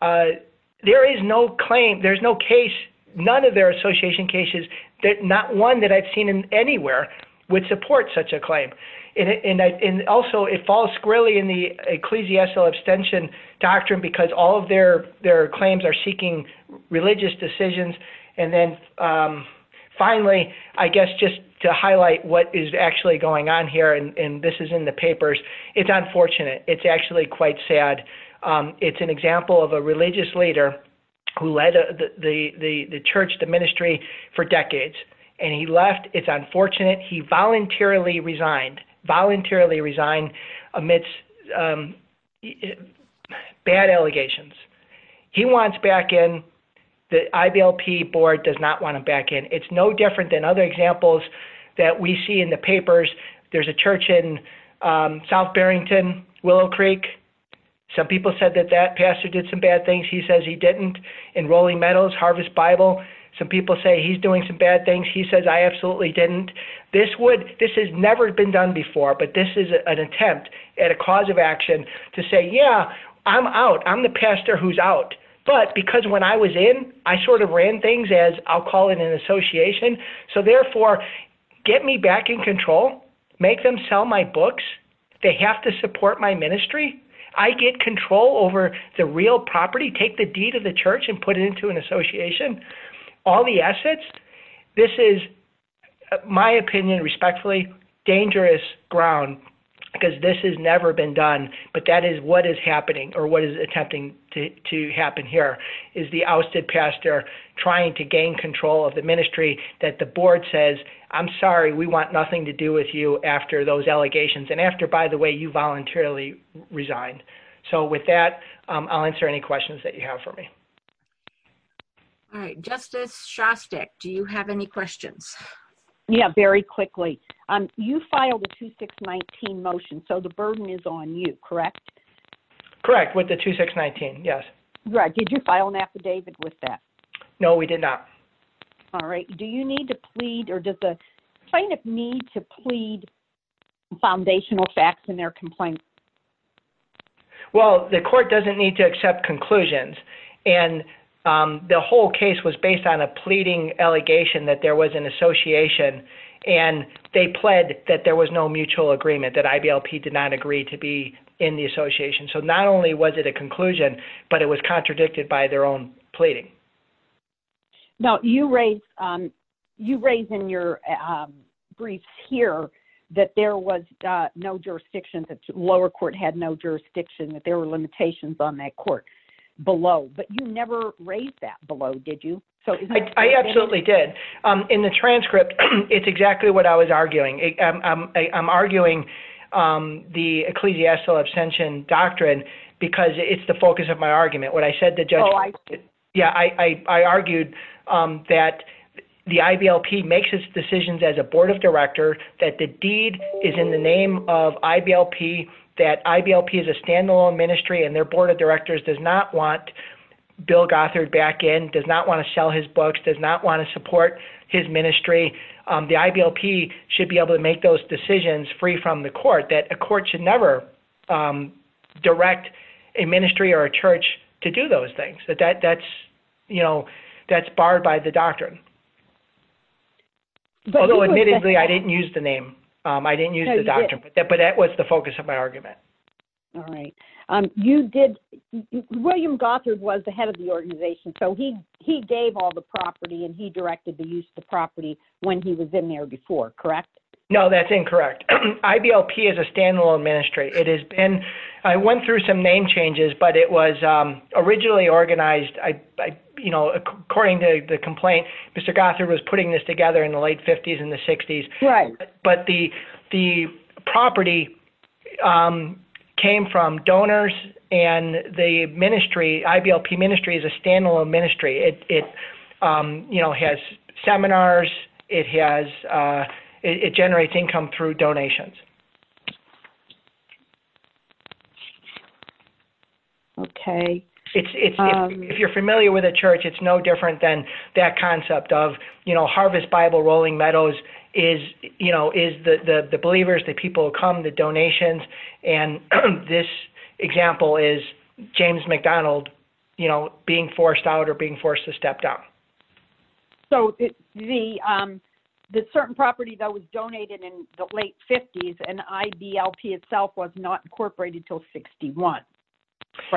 There is no claim, there's no case, none of their association cases, not one that I've seen anywhere would support such a claim. Also, it falls squarely in the ecclesiastical extension doctrine because all of their claims are seeking religious decisions. Finally, I guess just to highlight what is actually going on here, and this is in the papers, it's unfortunate. It's actually quite sad. It's an example of a religious leader who led the church, the ministry, for decades. He left. It's unfortunate. He voluntarily resigned amidst bad allegations. He wants back in. The IBLP board does not want him back in. It's no different than other examples that we see in the papers. There's a church in South Barrington, Willow Creek. Some people said that that pastor did some bad things. He says he didn't. In Rolling Meadows, Harvest Bible, some people say he's doing some bad things. He says, I absolutely didn't. This has never been done before, but this is an attempt at a cause of action to say, yeah, I'm out. I'm the pastor who's out. But because when I was in, I sort of ran things as, I'll call it an association. So therefore, get me back in control. Make them sell my books. They have to support my ministry. I get control over the real property. Take the deed of the church and put it into an association. All the assets. This is, my opinion, respectfully, dangerous ground because this has never been done, but that is what is happening or what is attempting to happen. Here is the ousted pastor trying to gain control of the ministry that the board says, I'm sorry, we want nothing to do with you after those allegations and after, by the way, you voluntarily resigned. So with that, I'll answer any questions that you have for me. All right. Justice Shostak, do you have any questions? The whole case was based on a pleading allegation that there was an association and they pled that there was no mutual agreement, that IBLP did not agree to be in the association. So not only was it a conclusion, but it was contradicted by their own pleading. You raise in your briefs here that there was no jurisdiction, that lower court had no jurisdiction, that there were limitations on that court below. But you never raised that below, did you? I absolutely did. In the transcript, it's exactly what I was arguing. I'm arguing the ecclesiastical abstention doctrine because it's the focus of my argument. What I said to judge, yeah, I argued that the IBLP makes its decisions as a board of director, that the deed is in the name of IBLP, that IBLP is a standalone ministry and their board of directors does not want Bill Gothard back in, does not want to sell his books, does not want to support his ministry. The IBLP should be able to make those decisions free from the court, that a court should never direct a ministry or a church to do those things. That's barred by the doctrine. Although, admittedly, I didn't use the name. I didn't use the doctrine. But that was the focus of my argument. All right. William Gothard was the head of the organization, so he gave all the property and he directed the use of the property when he was in there before, correct? No, that's incorrect. IBLP is a standalone ministry. I went through some name changes, but it was originally organized. According to the complaint, Mr. Gothard was putting this together in the late 50s and the 60s. Right. But the property came from donors and the ministry, IBLP ministry, is a standalone ministry. It has seminars, it generates income through donations. If you're familiar with a church, it's no different than that concept of Harvest Bible Rolling Meadows is the believers, the people who come, the donations, and this example is James McDonald being forced out or being forced to step down. The certain property that was donated in the late 50s and IBLP itself was not incorporated until 61, correct?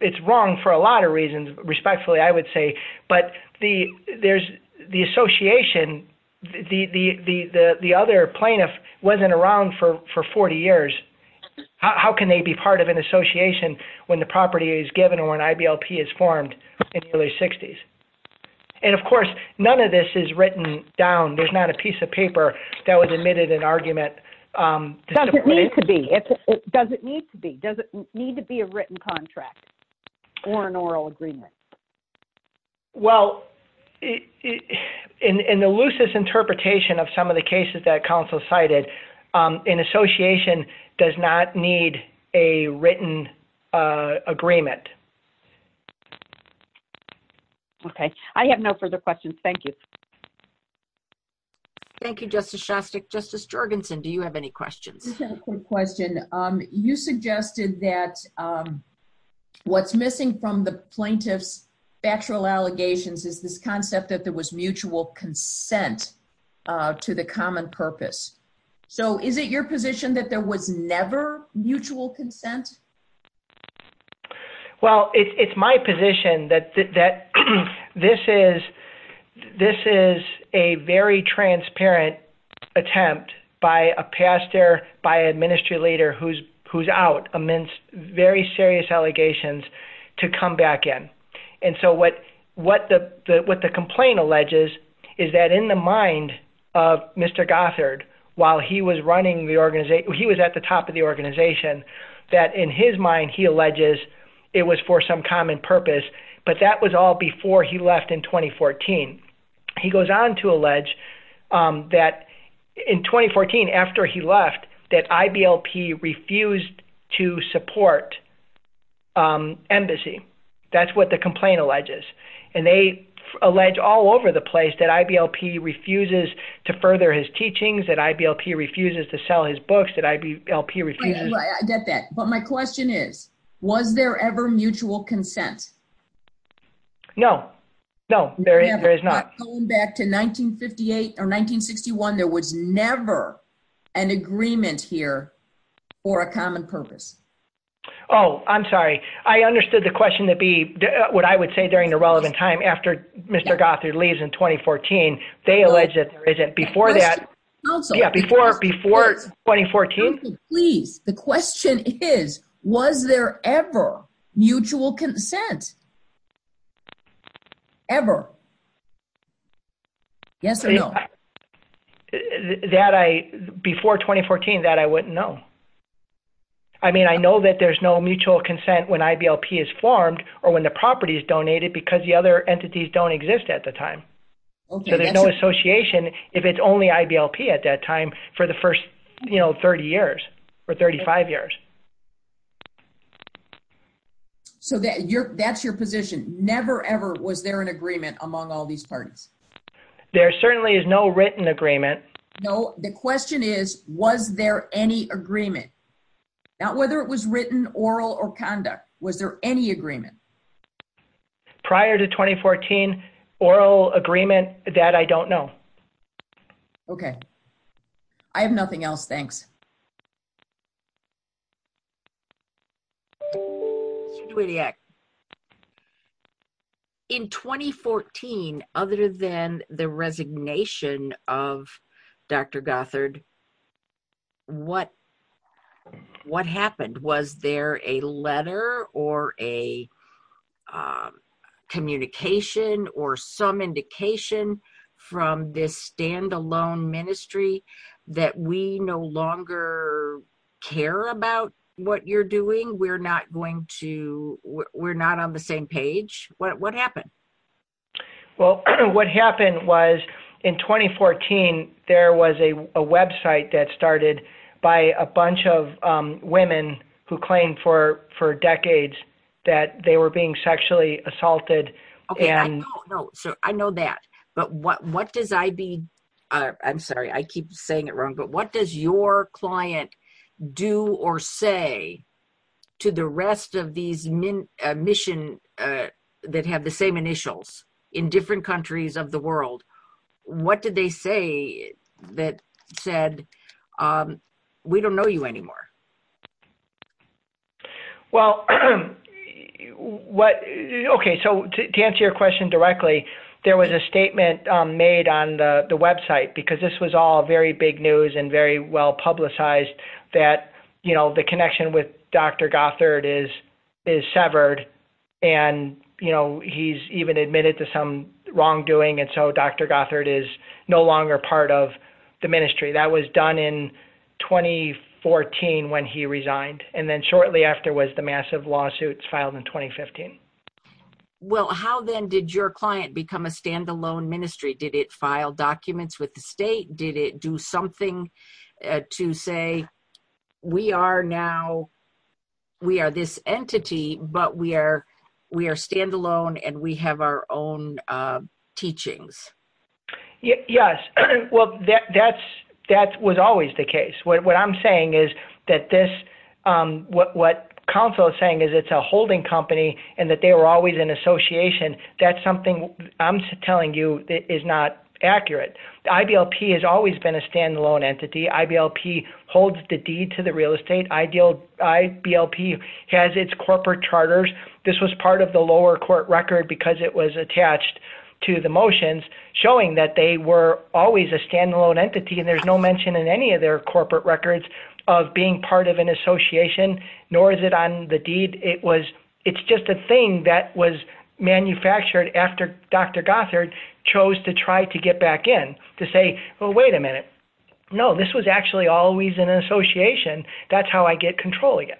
It's wrong for a lot of reasons, respectfully, I would say. But the association, the other plaintiff wasn't around for 40 years. How can they be part of an association when the property is given or when IBLP is formed in the early 60s? And of course, none of this is written down. There's not a piece of paper that was admitted in argument. Does it need to be? Does it need to be a written contract or an oral agreement? Well, in the loosest interpretation of some of the cases that counsel cited, an association does not need a written agreement. Okay. I have no further questions. Thank you. Thank you, Justice Shostak. Justice Jorgensen, do you have any questions? Just a quick question. You suggested that what's missing from the plaintiff's factual allegations is this concept that there was mutual consent to the common purpose. So is it your position that there was never mutual consent? Well, it's my position that this is a very transparent attempt by a pastor, by a ministry leader who's out amidst very serious allegations to come back in. And so what the complaint alleges is that in the mind of Mr. Gothard, while he was at the top of the organization, that in his mind he alleges it was for some common purpose, but that was all before he left in 2014. He goes on to allege that in 2014, after he left, that IBLP refused to support embassy. That's what the complaint alleges. And they allege all over the place that IBLP refuses to further his teachings, that IBLP refuses to sell his books, that IBLP refuses to I get that. But my question is, was there ever mutual consent? No, no, there is not. Going back to 1958 or 1961, there was never an agreement here for a common purpose. Oh, I'm sorry. I understood the question that would be, what I would say during the relevant time after Mr. Gothard leaves in 2014, they allege that there isn't. Before that, before 2014? Please, the question is, was there ever mutual consent? Ever. Yes or no? Before 2014, that I wouldn't know. I mean, I know that there's no mutual consent when IBLP is formed or when the property is donated because the other entities don't exist at the time. So there's no association if it's only IBLP at that time for the first 30 years or 35 years. So that's your position. Never ever was there an agreement among all these parties. There certainly is no written agreement. No, the question is, was there any agreement? Not whether it was written, oral, or conduct. Was there any agreement? Prior to 2014, oral agreement, that I don't know. Okay. I have nothing else. Thanks. Next question. Well, what happened was in 2014, there was a website that started by a bunch of women who claimed for decades that they were being sexually assaulted. I know that, but what does IB, I'm sorry, I keep saying it wrong, but what does your client do or say to the rest of these mission that have the same initials in different countries of the world? What did they say that said, we don't know you anymore? Well, okay. So to answer your question directly, there was a statement made on the website because this was all very big news and very well publicized that the connection with Dr. Gothard is severed and he's even admitted to some wrongdoing and so Dr. Gothard is no longer part of the ministry. That was done in 2014 when he resigned and then shortly after was the massive lawsuits filed in 2015. Well, how then did your client become a standalone ministry? Did it file documents with the state? Did it do something to say, we are now, we are this entity, but we are standalone and we have our own teachings? Yes. Well, that was always the case. What I'm saying is that this, what counsel is saying is it's a holding company and that they were always in association. That's something I'm telling you is not accurate. IVLP has always been a standalone entity. IVLP holds the deed to the real estate. IVLP has its corporate charters. This was part of the lower court record because it was attached to the motions showing that they were always a standalone entity and there's no mention in any of their corporate records of being part of an association, nor is it on the deed. It's just a thing that was manufactured after Dr. Gothard chose to try to get back in to say, well, wait a minute. No, this was actually always an association. That's how I get control again.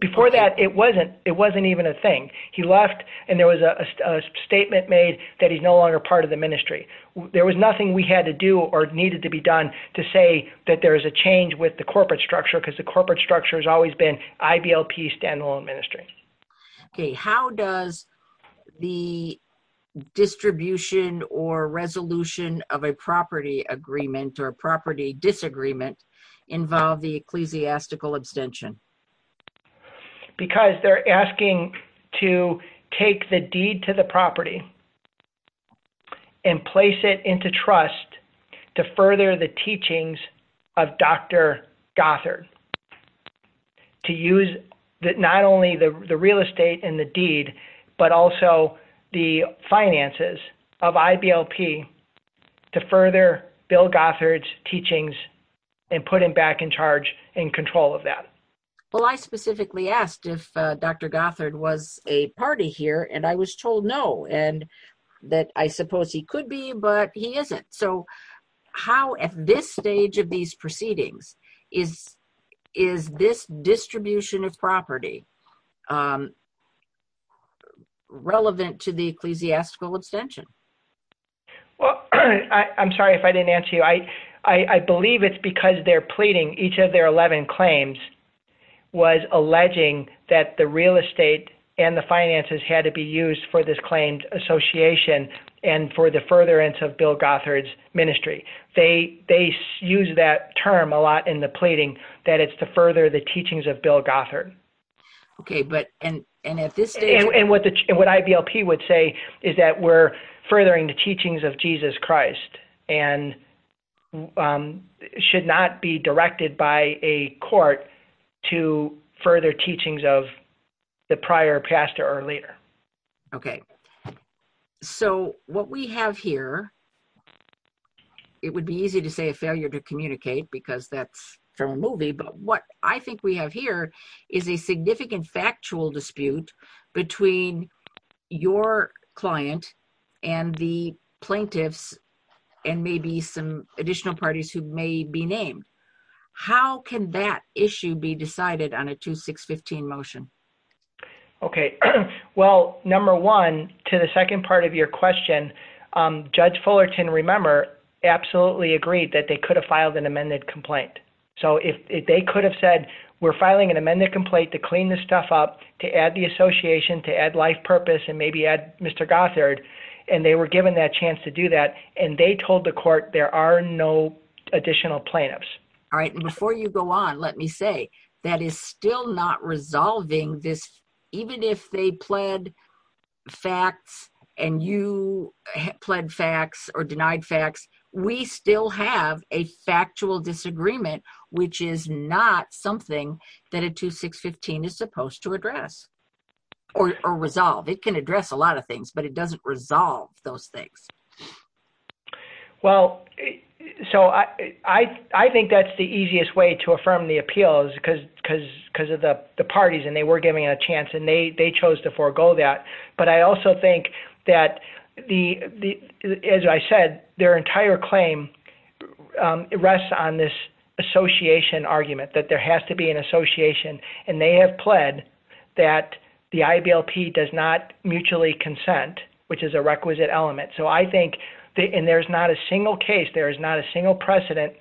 Before that, it wasn't even a thing. He left and there was a statement made that he's no longer part of the ministry. How does the distribution or resolution of a property agreement or property disagreement involve the ecclesiastical abstention? Because they're asking to take the deed to the property and place it into trust to further the teachings of Dr. Gothard. To use not only the real estate and the deed, but also the finances of IVLP to further Bill Gothard's teachings and put him back in charge and control of that. I specifically asked if Dr. Gothard was a party here and I was told no and that I suppose he could be, but he isn't. How at this stage of these proceedings is this distribution of property relevant to the ecclesiastical abstention? I'm sorry if I didn't answer you. I believe it's because they're pleading. Each of their 11 claims was alleging that the real estate and the finances had to be used for this claims association and for the furtherance of Bill Gothard's ministry. They use that term a lot in the pleading that it's to further the teachings of Bill Gothard. What IVLP would say is that we're furthering the teachings of Jesus Christ and should not be directed by a court to further teachings of the prior pastor or leader. Okay. So what we have here, it would be easy to say a failure to communicate because that's their movie, but what I think we have here is a significant factual dispute between your client and the plaintiffs and maybe some additional parties who may be named. How can that issue be decided on a 2-6-15 motion? Well, one, to the second part of your question, Judge Fullerton, remember, absolutely agreed that they could have filed an amended complaint. So if they could have said, we're filing an amended complaint to clean this stuff up, to add the association, to add life purpose, and maybe add Mr. Gothard, and they were given that chance to do that, and they told the court there are no additional plaintiffs. All right. And before you go on, let me say that is still not resolving this. Even if they pled facts and you pled facts or denied facts, we still have a factual disagreement, which is not something that a 2-6-15 is supposed to address or resolve. It can address a lot of things, but it doesn't resolve those things. Well, so I think that's the easiest way to affirm the appeal is because of the parties, and they were given a chance, and they chose to forego that. But I also think that, as I said, their entire claim rests on this association argument, that there has to be an association, and they have pled that the IBLP does not mutually consent, which is a requisite element. So I think, and there's not a single case, there is not a single precedent,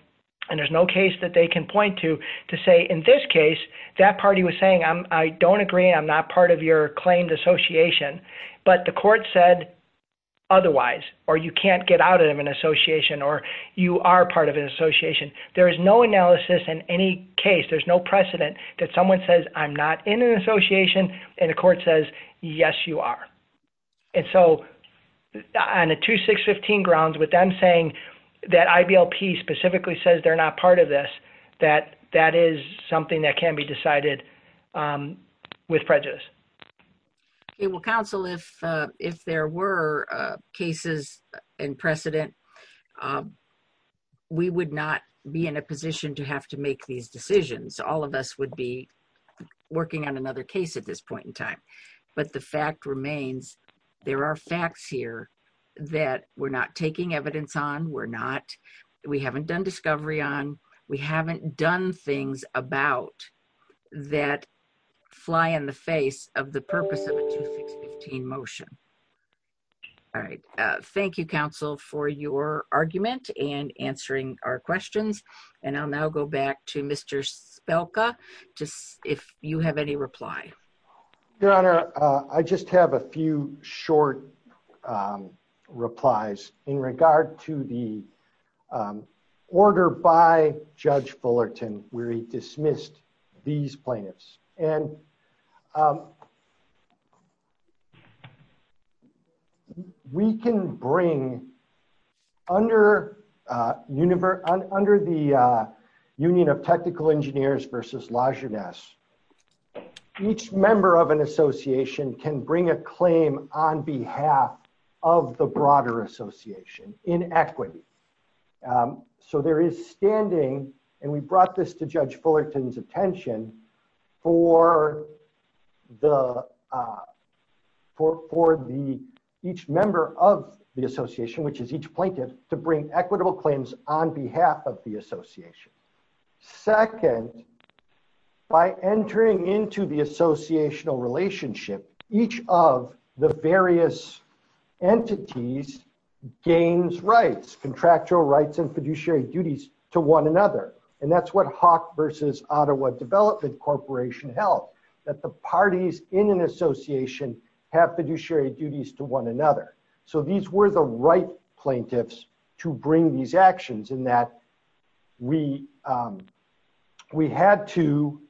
and there's no case that they can point to, to say, in this case, that party was saying, I don't agree, I'm not part of your claimed association, but the court said otherwise, or you can't get out of an association, or you are part of an association. There is no analysis in any case, there's no precedent, that someone says, I'm not in an association, and the court says, yes, you are. And so, on a 2-6-15 grounds, with them saying that IBLP specifically says they're not part of this, that that is something that can be decided with prejudice. Well, counsel, if there were cases and precedent, we would not be in a position to have to make these decisions. All of us would be working on another case at this point in time. But the fact remains, there are facts here that we're not taking evidence on, we're not, we haven't done discovery on, we haven't done things about that fly in the face of the purpose of a 2-6-15 motion. All right. Thank you, counsel, for your argument and answering our questions. And I'll now go back to Mr. Spelka, if you have any replies. Your Honor, I just have a few short replies in regard to the order by Judge Fullerton where he dismissed these plaintiffs. And we can bring, under the Union of Technical Engineers v. Lajeunesse, each member of an association can bring a claim on behalf of the broader association in equity. So there is standing, and we brought this to Judge Fullerton's attention, for each member of the association, which is each plaintiff, to bring equitable claims on behalf of the association. Second, by entering into the associational relationship, each of the various entities gains rights, contractual rights and fiduciary duties, to one another. And that's what Hawk v. Ottawa Development Corporation held, that the parties in an association have fiduciary duties to one another. So these were the right plaintiffs to bring these actions in that we had to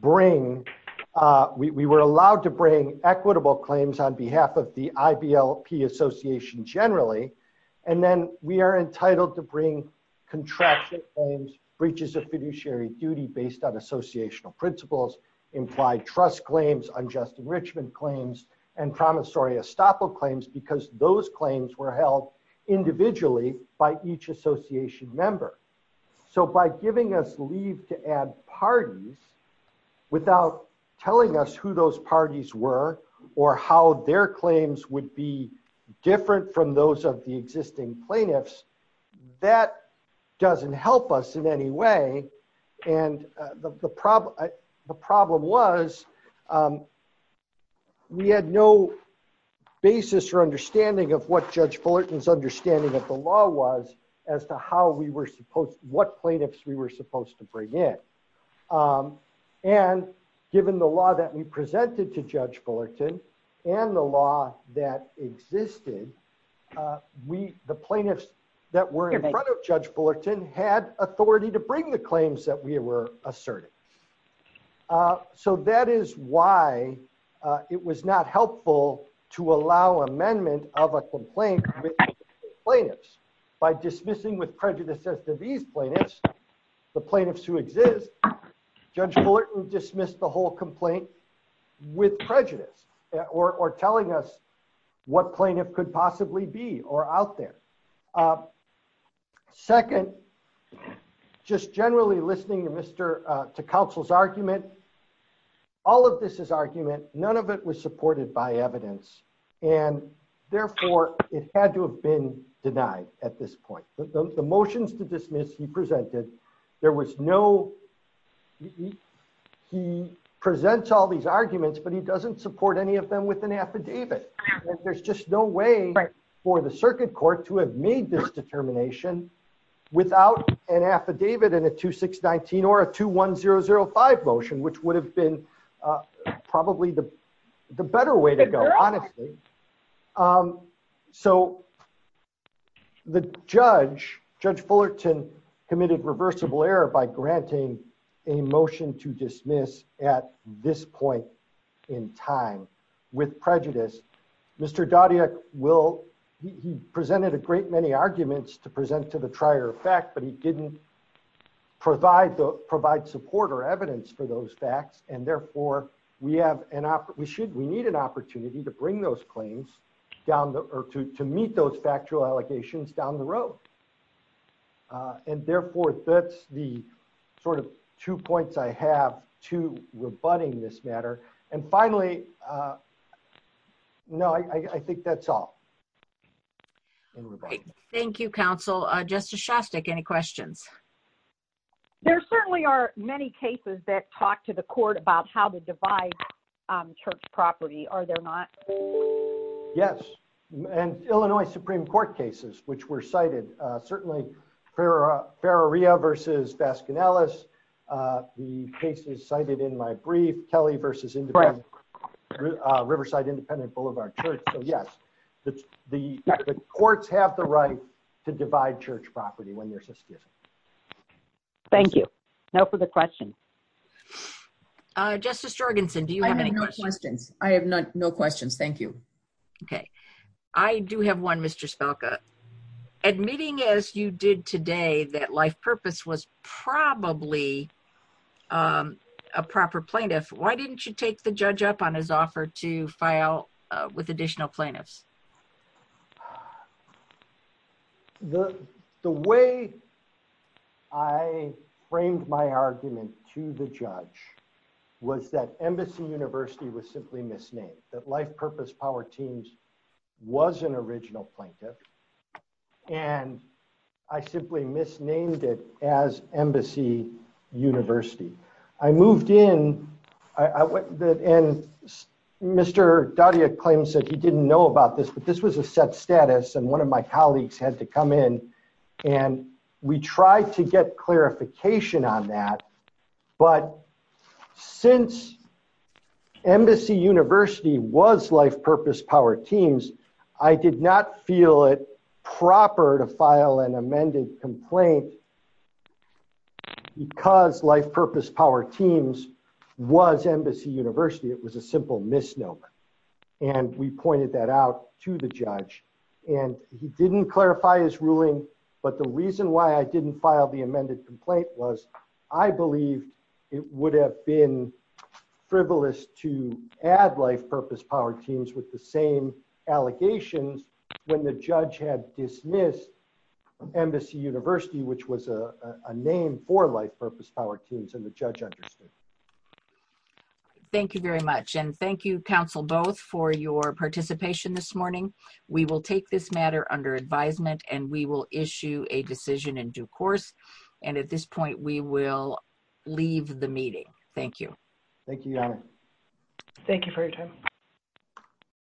bring, we were allowed to bring equitable claims on behalf of the IBLP association generally. And then we are entitled to bring contractual claims, breaches of fiduciary duty based on associational principles, implied trust claims, unjust enrichment claims, and promissory estoppel claims, because those claims were held individually by each association member. So by giving us leave to add parties, without telling us who those parties were, or how their claims would be different from those of the existing plaintiffs, that doesn't help us in any way. And the problem was, we had no basis or understanding of what Judge Fullerton's understanding of the law was, as to how we were supposed, what plaintiffs we were supposed to bring in. And given the law that we presented to Judge Fullerton, and the law that existed, the plaintiffs that were in front of Judge Fullerton had authority to bring the claims that we were asserting. So that is why it was not helpful to allow amendment of a complaint with plaintiffs. By dismissing with prejudice as to these plaintiffs, the plaintiffs who exist, Judge Fullerton dismissed the whole complaint with prejudice, or telling us what plaintiff could possibly be, or out there. Second, just generally listening to counsel's argument, all of this is argument, none of it was supported by evidence, and therefore it had to have been denied at this point. The motions to dismiss he presented, there was no, he presents all these arguments, but he doesn't support any of them with an affidavit. There's just no way for the circuit court to have made this determination without an affidavit in a 2619 or a 21005 motion, which would have been probably the better way to go, honestly. So the judge, Judge Fullerton, committed reversible error by granting a motion to dismiss at this point in time with prejudice. Mr. Doddia will, he presented a great many arguments to present to the trier effect, but he didn't provide support or evidence for those facts. And therefore, we have an, we should, we need an opportunity to bring those claims down, or to meet those factual allegations down the road. And therefore, that's the sort of two points I have to rebutting this matter. And finally, no, I think that's all. Thank you, counsel. Justice Shostak, any questions? There certainly are many cases that talk to the court about how to divide church property, are there not? Yes, and Illinois Supreme Court cases, which were cited, certainly Ferraria versus Baskin-Ellis, the cases cited in my brief, Kelly versus Riverside Independent Boulevard. Yes, the courts have the right to divide church property when there's an excuse. Thank you. No further questions. Justice Jorgenson, do you have any questions? I have no questions. Thank you. Okay. I do have one, Mr. Stalka. Admitting as you did today that life purpose was probably a proper plaintiff, why didn't you take the judge up on his offer to file with additional plaintiffs? The way I framed my argument to the judge was that Embassy University was simply misnamed, that Life Purpose Power Teams was an original plaintiff, and I simply misnamed it as Embassy University. I moved in, and Mr. Daudia claims that he didn't know about this, but this was a sub-status, and one of my colleagues had to come in, and we tried to get clarification on that. But since Embassy University was Life Purpose Power Teams, I did not feel it proper to file an amended complaint because Life Purpose Power Teams was Embassy University. It was a simple misnomer, and we pointed that out to the judge. And he didn't clarify his ruling, but the reason why I didn't file the amended complaint was I believe it would have been frivolous to add Life Purpose Power Teams with the same allegations when the judge had dismissed Embassy University, which was a name for Life Purpose Power Teams, and the judge understood. Thank you very much, and thank you, counsel both, for your participation this morning. We will take this matter under advisement, and we will issue a decision in due course. And at this point, we will leave the meeting. Thank you. Thank you, Your Honor. Thank you for your time.